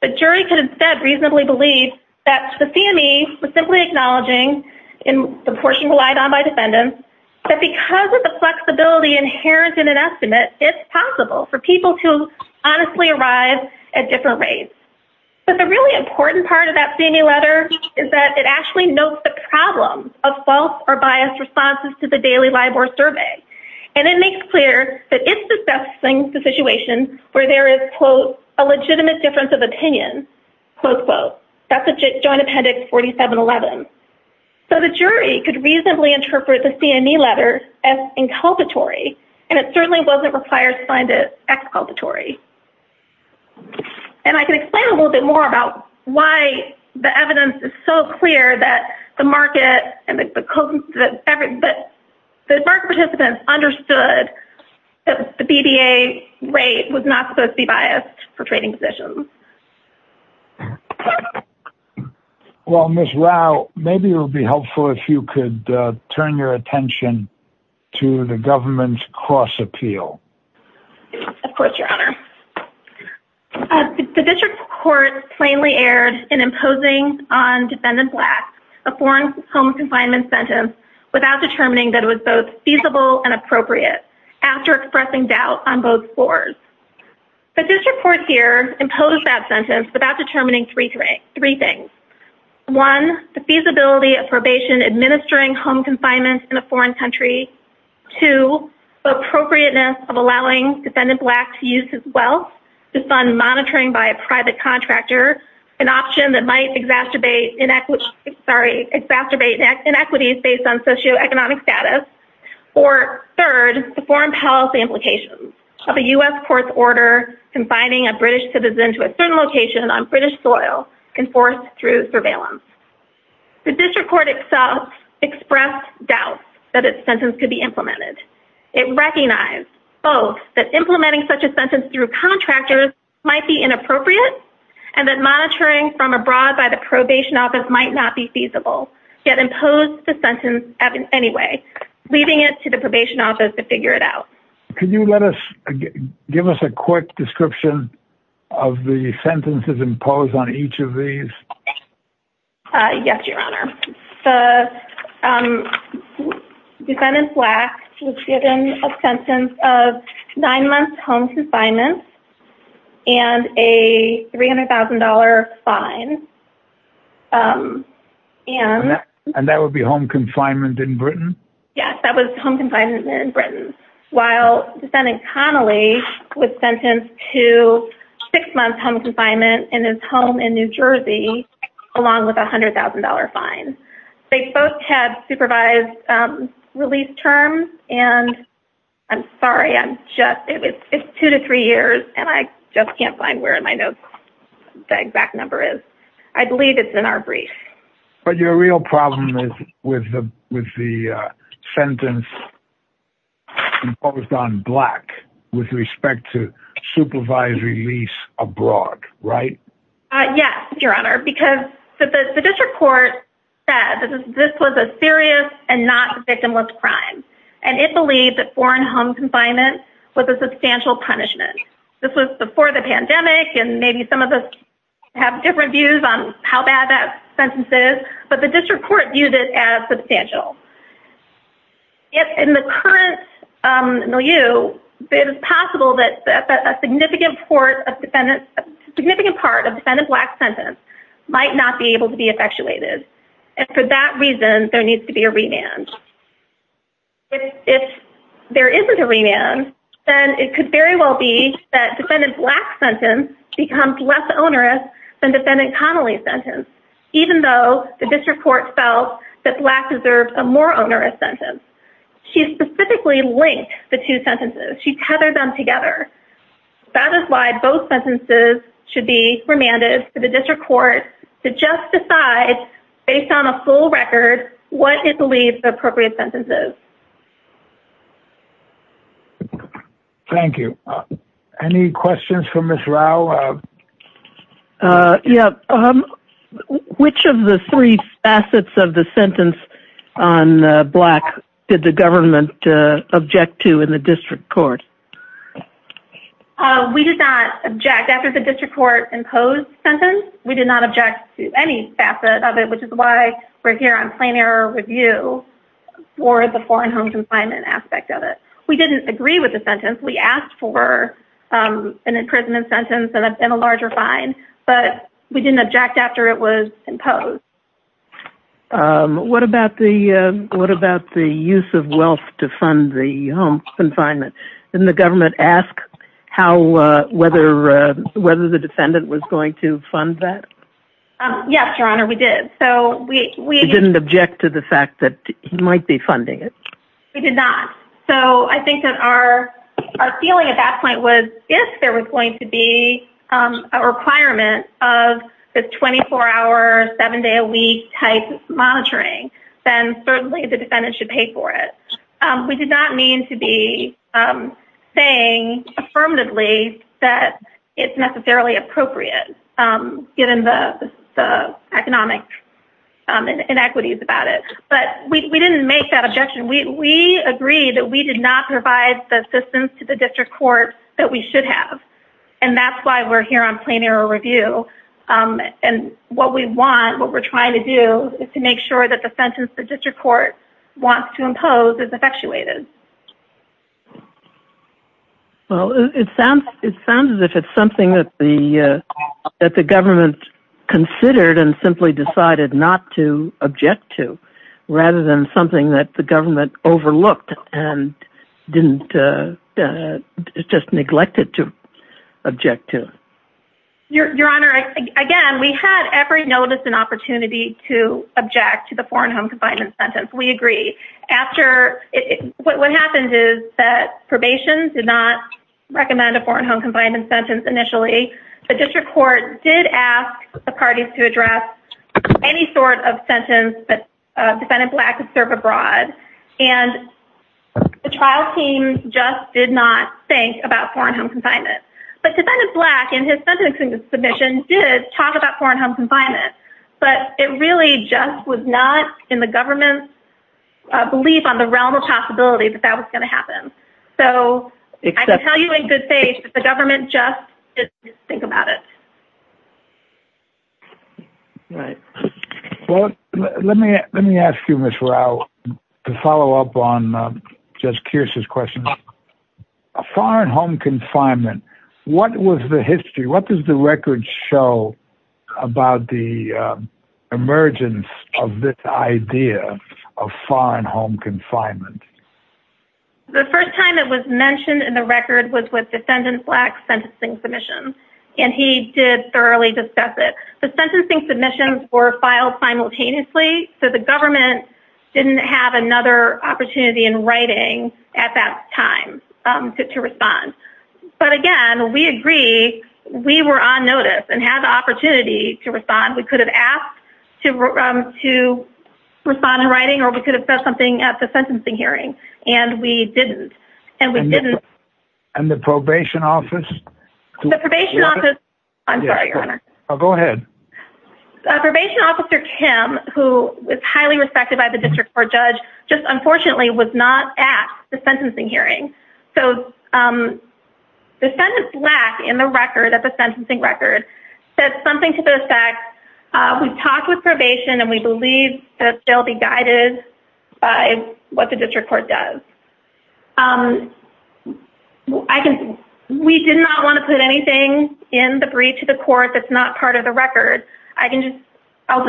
The jury could instead reasonably believe that the CME was simply acknowledging in the portion relied on by defendants that because of the flexibility inherent in an estimate, it's possible for people to honestly arrive at different rates. But the really important part of that CME letter is that it actually notes the problems of false or biased responses to the daily LIBOR survey. And it makes clear that it's discussing the situation where there is, quote, a legitimate difference of opinion, quote, quote. That's a joint appendix 4711. So the jury could reasonably interpret the CME letter as inculpatory, and it certainly wasn't required to find it exculpatory. And I can explain a little bit more about why the evidence is so clear that the market participants understood that the BBA rate was not supposed to be biased for trading positions. Well, Ms. Rao, maybe it would be helpful if you could turn your attention to the government's cross appeal. Of course, Your Honor. The district court plainly erred in imposing on defendant blacks a foreign home confinement sentence without determining that it was both feasible and appropriate after expressing doubt on both floors. The district court here imposed that sentence without determining three things. One, the feasibility of probation administering home confinement in a foreign country. Two, the appropriateness of allowing defendant blacks to use his wealth to fund monitoring by a private contractor, an option that might exacerbate inequities based on socioeconomic status. Or third, the foreign policy implications of a U.S. court's order confining a British citizen to a certain location on British soil enforced through surveillance. The district court itself expressed doubt that its sentence could be implemented. It recognized both that implementing such a sentence through contractors might be inappropriate and that monitoring from abroad by the probation office might not be feasible, yet imposed the sentence anyway, leaving it to the probation office to figure it out. Can you give us a quick description of the sentences imposed on each of these? Yes, Your Honor. The defendant black was given a sentence of nine months home confinement and a $300,000 fine. And that would be home confinement in Britain? Yes, that was home confinement in Britain, while defendant Connolly was sentenced to six months home confinement in his home in New Jersey, along with a $100,000 fine. They both had supervised release terms, and I'm sorry, it's two to three years, and I just can't find where in my notes the exact number is. I believe it's in our brief. But your real problem is with the sentence imposed on black with respect to supervised release abroad, right? Yes, Your Honor, because the district court said that this was a serious and not victimless crime, and it believed that foreign home confinement was a substantial punishment. This was before the pandemic, and maybe some of us have different views on how bad that sentence is, but the district court viewed it as substantial. In the current milieu, it is possible that a significant part of defendant black's sentence might not be able to be effectuated. And for that reason, there needs to be a remand. If there isn't a remand, then it could very well be that defendant black's sentence becomes less onerous than defendant Connolly's sentence, even though the district court felt that black deserved a more onerous sentence. She specifically linked the two sentences. She tethered them together. That is why both sentences should be remanded to the district court to just decide, based on a full record, what it believes the appropriate sentence is. Thank you. Yeah. Which of the three facets of the sentence on black did the government object to in the district court? We did not object after the district court imposed sentence. We did not object to any facet of it, which is why we're here on plain error review for the foreign home confinement aspect of it. We didn't agree with the sentence. We asked for an imprisonment sentence and a larger fine, but we didn't object after it was imposed. What about the use of wealth to fund the home confinement? Didn't the government ask whether the defendant was going to fund that? Yes, Your Honor, we did. You didn't object to the fact that he might be funding it? We did not. So I think that our feeling at that point was if there was going to be a requirement of this 24-hour, seven-day-a-week type monitoring, then certainly the defendant should pay for it. We did not mean to be saying affirmatively that it's necessarily appropriate, given the economic inequities about it. But we didn't make that objection. We agreed that we did not provide the assistance to the district court that we should have, and that's why we're here on plain error review. And what we want, what we're trying to do, is to make sure that the sentence the district court wants to impose is effectuated. Well, it sounds as if it's something that the government considered and simply decided not to object to, rather than something that the government overlooked and just neglected to object to. Your Honor, again, we had every notice and opportunity to object to the foreign home confinement sentence. We agree. After, what happens is that probation did not recommend a foreign home confinement sentence initially. The district court did ask the parties to address any sort of sentence that defendant Black could serve abroad. And the trial team just did not think about foreign home confinement. But defendant Black, in his sentencing submission, did talk about foreign home confinement. But it really just was not in the government's belief on the realm of possibility that that was going to happen. So, I can tell you in good faith that the government just didn't think about it. Right. Well, let me ask you, Ms. Rao, to follow up on Judge Kearse's question. Foreign home confinement. What was the history? What does the record show about the emergence of this idea of foreign home confinement? The first time it was mentioned in the record was with defendant Black's sentencing submission. And he did thoroughly discuss it. The sentencing submissions were filed simultaneously. So, the government didn't have another opportunity in writing at that time to respond. But, again, we agree. We were on notice and had the opportunity to respond. We could have asked to respond in writing or we could have said something at the sentencing hearing. And we didn't. And we didn't. The probation office. I'm sorry, Your Honor. Go ahead. Probation Officer Kim, who is highly respected by the district court judge, just unfortunately was not at the sentencing hearing. So, defendant Black in the record, at the sentencing record, said something to this effect. We've talked with probation and we believe that they'll be guided by what the district court does. We did not want to put anything in the brief to the court that's not part of the record. I'll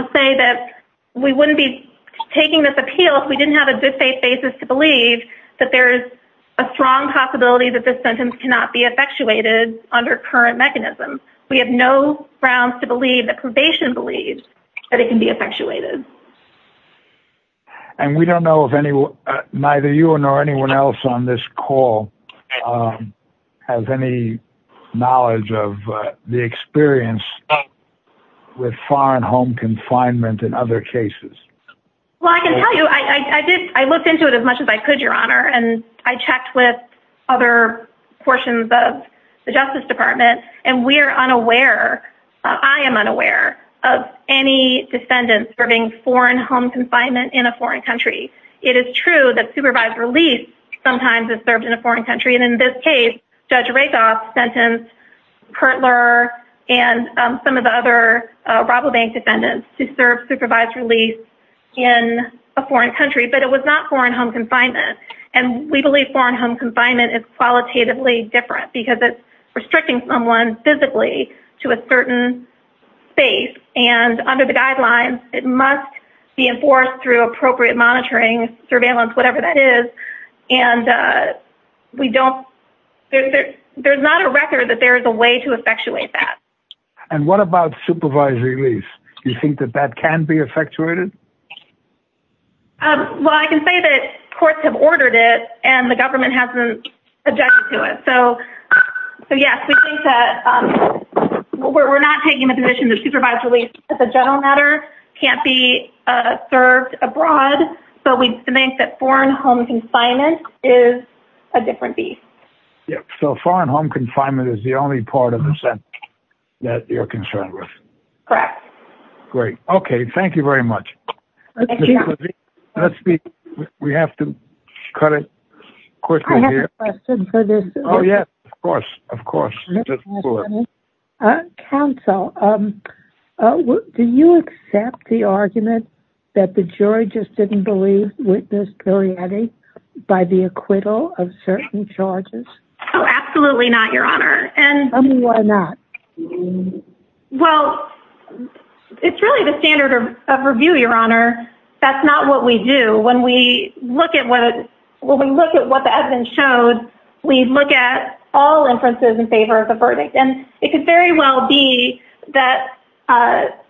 just say that we wouldn't be taking this appeal if we didn't have a good faith basis to believe that there's a strong possibility that this sentence cannot be effectuated under current mechanisms. We have no grounds to believe that probation believes that it can be effectuated. And we don't know if neither you nor anyone else on this call has any knowledge of the experience with foreign home confinement and other cases. Well, I can tell you, I looked into it as much as I could, Your Honor. And I checked with other portions of the Justice Department, and we are unaware, I am unaware, of any defendants serving foreign home confinement in a foreign country. It is true that supervised release sometimes is served in a foreign country. And in this case, Judge Rakoff sentenced Kertler and some of the other robbery bank defendants to serve supervised release in a foreign country. But it was not foreign home confinement. And we believe foreign home confinement is qualitatively different because it's restricting someone physically to a certain space. And under the guidelines, it must be enforced through appropriate monitoring, surveillance, whatever that is. And we don't, there's not a record that there is a way to effectuate that. And what about supervised release? Do you think that that can be effectuated? Well, I can say that courts have ordered it, and the government hasn't objected to it. So, yes, we think that we're not taking the position that supervised release, as a general matter, can't be served abroad. But we think that foreign home confinement is a different beast. So foreign home confinement is the only part of the sentence that you're concerned with? Correct. Great. Okay. Thank you very much. Let's be, we have to cut it quickly here. I have a question for this. Oh, yes. Of course. Of course. Counsel, do you accept the argument that the jury just didn't believe witness Perrietti by the acquittal of certain charges? Oh, absolutely not, Your Honor. And why not? Well, it's really the standard of review, Your Honor. That's not what we do. When we look at what the evidence showed, we look at all inferences in favor of the verdict. And it could very well be that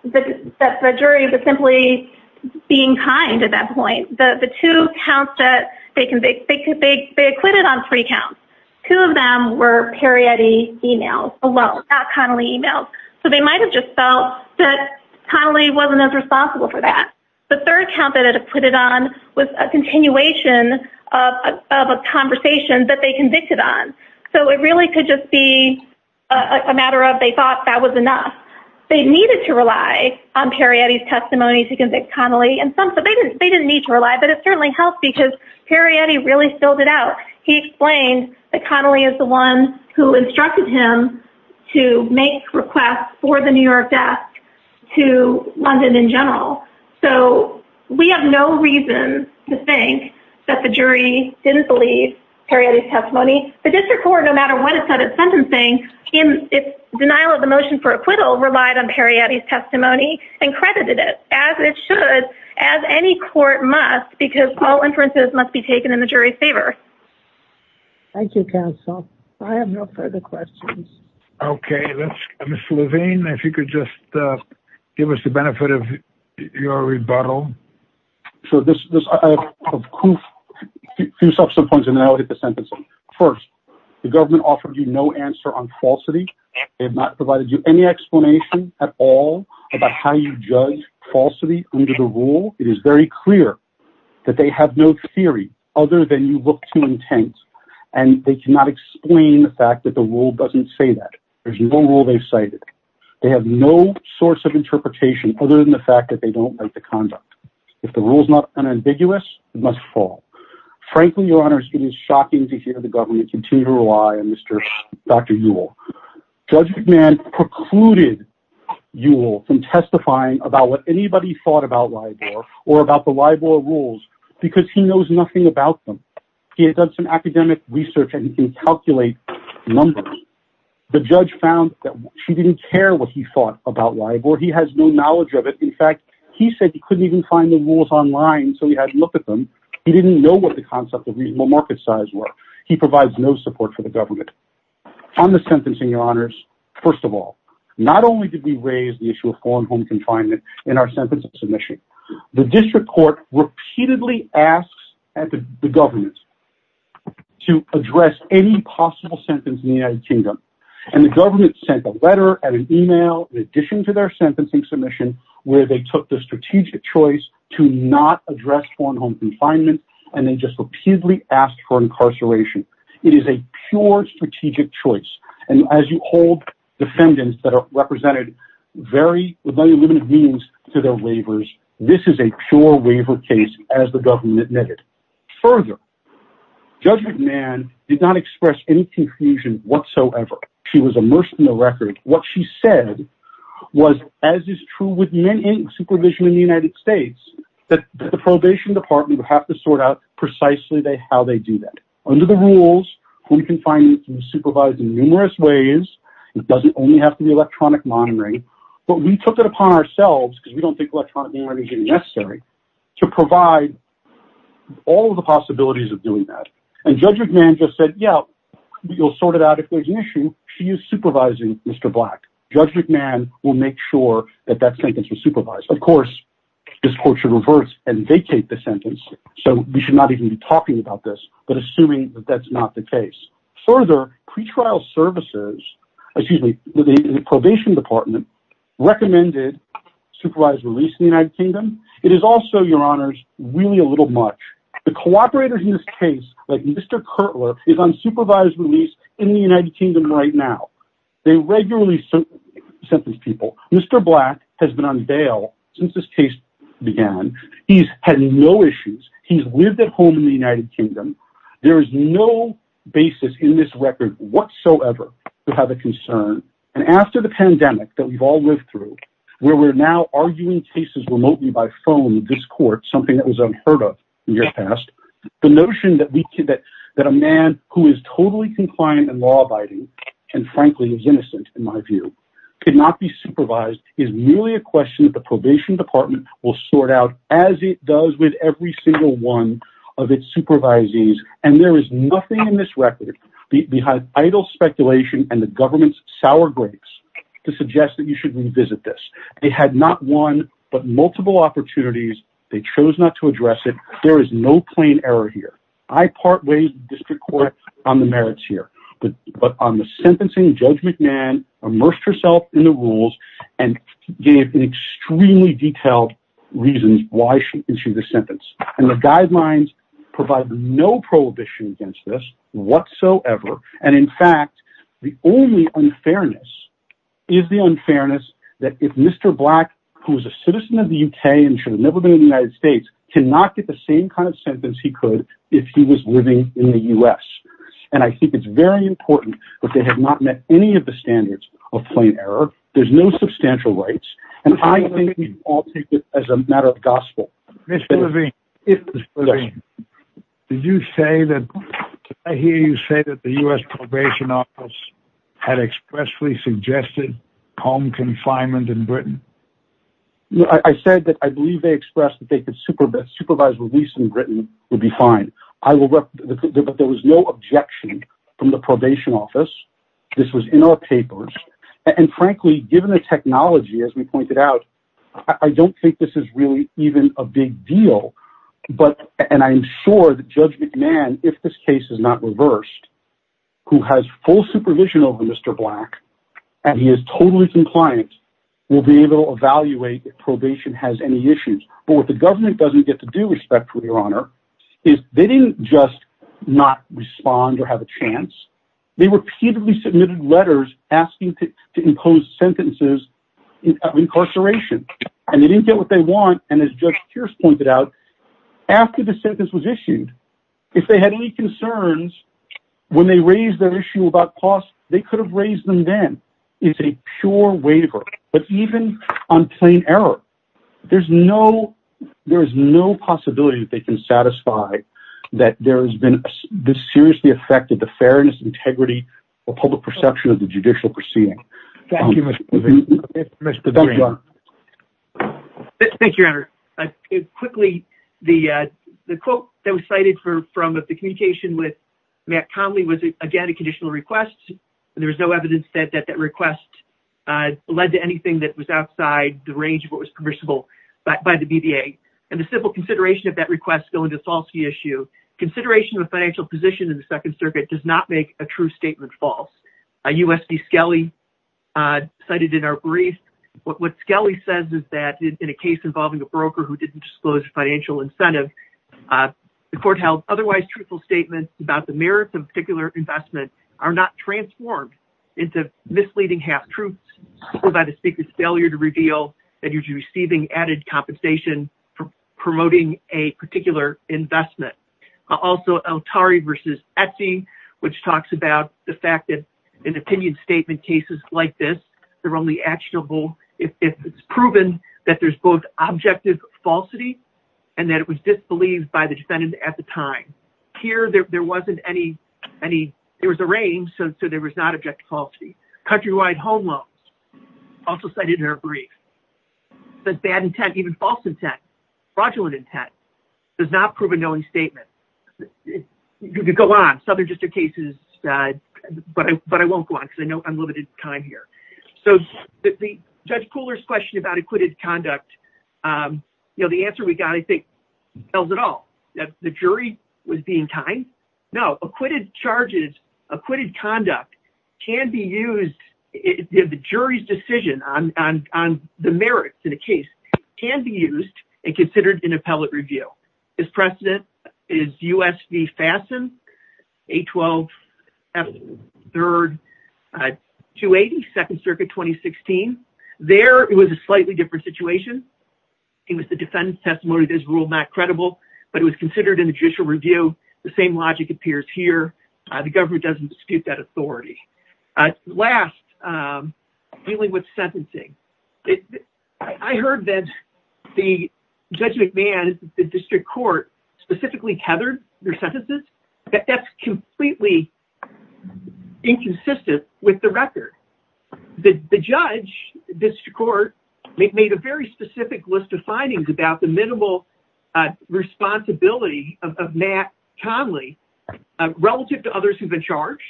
the jury was simply being kind at that point. The two counts that they acquitted on three counts, two of them were Perrietti females alone. Not Connelly females. So they might have just felt that Connelly wasn't as responsible for that. The third count that it acquitted on was a continuation of a conversation that they convicted on. So it really could just be a matter of they thought that was enough. They needed to rely on Perrietti's testimony to convict Connelly. They didn't need to rely, but it certainly helped because Perrietti really filled it out. He explained that Connelly is the one who instructed him to make requests for the New York desk to London in general. So we have no reason to think that the jury didn't believe Perrietti's testimony. The district court, no matter what it said at sentencing, in its denial of the motion for acquittal, relied on Perrietti's testimony and credited it as it should, as any court must, because all inferences must be taken in the jury's favor. Thank you, counsel. I have no further questions. Okay. Ms. Levine, if you could just give us the benefit of your rebuttal. So I have a few points, and then I'll hit the sentence. First, the government offered you no answer on falsity. They have not provided you any explanation at all about how you judge falsity under the rule. It is very clear that they have no theory other than you look too intense, and they cannot explain the fact that the rule doesn't say that. There's no rule they've cited. They have no source of interpretation other than the fact that they don't like the conduct. If the rule is not unambiguous, it must fall. Frankly, Your Honor, it is shocking to hear the government continue to rely on Dr. Ewell. Judge McMahon precluded Ewell from testifying about what anybody thought about LIBOR or about the LIBOR rules because he knows nothing about them. He had done some academic research and he can calculate numbers. The judge found that she didn't care what he thought about LIBOR. He has no knowledge of it. In fact, he said he couldn't even find the rules online, so he had to look at them. He didn't know what the concept of reasonable market size was. He provides no support for the government. On the sentencing, Your Honors, first of all, not only did we raise the issue of foreign home confinement in our sentencing submission, the district court repeatedly asks the government to address any possible sentence in the United Kingdom. And the government sent a letter and an email in addition to their sentencing submission where they took the strategic choice to not address foreign home confinement, and they just repeatedly asked for incarceration. It is a pure strategic choice. And as you hold defendants that are represented with very limited means to their waivers, this is a pure waiver case, as the government admitted. Further, Judge McMahon did not express any confusion whatsoever. She was immersed in the record. What she said was, as is true with any supervision in the United States, that the probation department would have to sort out precisely how they do that. Under the rules, home confinement can be supervised in numerous ways. It doesn't only have to be electronic monitoring. But we took it upon ourselves, because we don't think electronic monitoring is even necessary, to provide all of the possibilities of doing that. And Judge McMahon just said, yeah, we'll sort it out if there's an issue. She is supervising Mr. Black. Judge McMahon will make sure that that sentence is supervised. Of course, this court should reverse and vacate the sentence, so we should not even be talking about this. But assuming that that's not the case. Further, pretrial services, excuse me, the probation department, recommended supervised release in the United Kingdom. It is also, Your Honors, really a little much. The cooperators in this case, like Mr. Kertler, is on supervised release in the United Kingdom right now. They regularly sentence people. Mr. Black has been on bail since this case began. He's had no issues. He's lived at home in the United Kingdom. There is no basis in this record whatsoever to have a concern. And after the pandemic that we've all lived through, where we're now arguing cases remotely by phone in this court, something that was unheard of in the past, the notion that a man who is totally compliant and law-abiding and, frankly, is innocent, in my view, could not be supervised, is merely a question that the probation department will sort out, as it does with every single one of its supervisees. And there is nothing in this record, behind idle speculation and the government's sour grapes, to suggest that you should revisit this. They had not one, but multiple opportunities. They chose not to address it. There is no plain error here. I part ways with the district court on the merits here. But on the sentencing, Judge McMahon immersed herself in the rules and gave extremely detailed reasons why she issued the sentence. And the guidelines provide no prohibition against this whatsoever. And, in fact, the only unfairness is the unfairness that if Mr. Black, who is a citizen of the U.K. and should have never been in the United States, cannot get the same kind of sentence he could if he was living in the U.S. And I think it's very important that they have not met any of the standards of plain error. There's no substantial rights. And I think we all take this as a matter of gospel. Mr. Levine, did you say that the U.S. probation office had expressly suggested home confinement in Britain? I said that I believe they expressed that they could supervise release in Britain would be fine. But there was no objection from the probation office. This was in our papers. And, frankly, given the technology, as we pointed out, I don't think this is really even a big deal. And I'm sure that Judge McMahon, if this case is not reversed, who has full supervision over Mr. Black and he is totally compliant, will be able to evaluate if probation has any issues. But what the government doesn't get to do, respectfully, Your Honor, is they didn't just not respond or have a chance. They repeatedly submitted letters asking to impose sentences of incarceration. And they didn't get what they want. And as Judge Pierce pointed out, after the sentence was issued, if they had any concerns when they raised their issue about costs, they could have raised them then. It's a pure waiver. But even on plain error, there's no possibility that they can satisfy that there has been this seriously affected the fairness, integrity, or public perception of the judicial proceeding. Thank you, Mr. Green. Thank you, Your Honor. Quickly, the quote that was cited from the communication with Matt Conley was, again, a conditional request. And there was no evidence that that request led to anything that was outside the range of what was permissible by the BBA. And the simple consideration of that request going to a falsity issue, consideration of a financial position in the Second Circuit does not make a true statement false. USB Skelly cited in our brief. What Skelly says is that in a case involving a broker who didn't disclose financial incentive, the court held otherwise truthful statements about the merits of a particular investment are not transformed into misleading half-truths. Also, El-Tari versus Etsy, which talks about the fact that in opinion statement cases like this, they're only actionable if it's proven that there's both objective falsity and that it was disbelieved by the defendant at the time. Here, there wasn't any, there was a range, so there was not objective falsity. Countrywide home loans, also cited in our brief. There's bad intent, even false intent, fraudulent intent, does not prove a knowing statement. You could go on, Southern District cases, but I won't go on because I know I'm limited in time here. So, Judge Pooler's question about acquitted conduct, you know, the answer we got, I think, tells it all. That the jury was being kind? No, acquitted charges, acquitted conduct can be used, the jury's decision on the merits in a case can be used and considered in appellate review. Its precedent is U.S. v. Fasten, 812, F3, 280, Second Circuit, 2016. There, it was a slightly different situation. It was the defendant's testimony that is ruled not credible, but it was considered in judicial review. The same logic appears here. The government doesn't dispute that authority. Last, dealing with sentencing. I heard that Judge McMahon's district court specifically tethered their sentences. That's completely inconsistent with the record. The judge, district court, made a very specific list of findings about the minimal responsibility of Matt Conley relative to others who've been charged,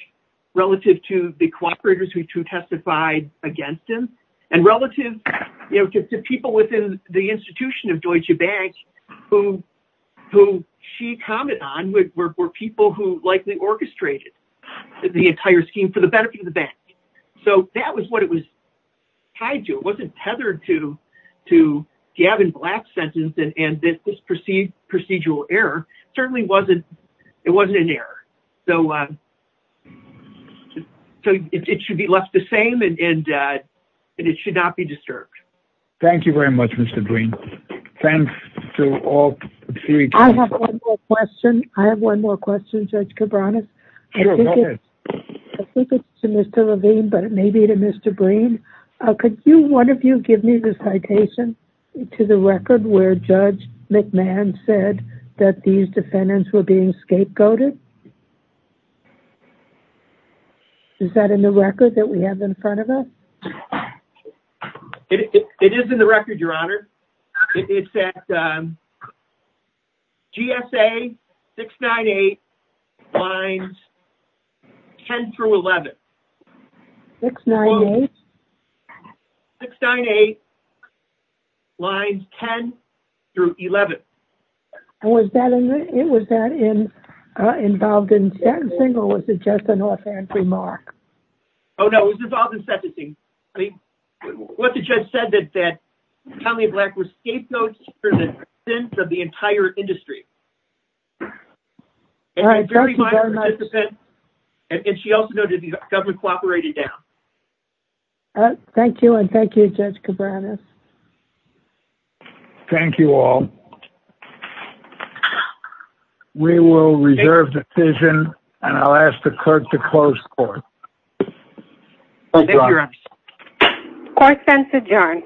relative to the cooperators who testified against him, and relative to people within the institution of Deutsche Bank who she commented on were people who likely orchestrated the entire scheme for the benefit of the bank. That was what it was tied to. It wasn't tethered to Gavin Black's sentence, and this procedural error certainly wasn't an error. It should be left the same, and it should not be disturbed. Thank you very much, Mr. Green. Thanks to all three. I have one more question. I have one more question, Judge Cabranes. Sure, go ahead. I think it's to Mr. Levine, but it may be to Mr. Green. Could one of you give me the citation to the record where Judge McMahon said that these defendants were being scapegoated? Is that in the record that we have in front of us? It is in the record, Your Honor. It's at GSA 698 lines 10 through 11. 698? 698 lines 10 through 11. Was that involved in sentencing, or was it just an offhand remark? What the judge said is that Tommy Black was scapegoated for the sins of the entire industry. All right, thank you very much. She also noted the government cooperated down. Thank you, and thank you, Judge Cabranes. Thank you all. We will reserve the decision, and I'll ask the court to close court. Thank you, Your Honor. Court is adjourned.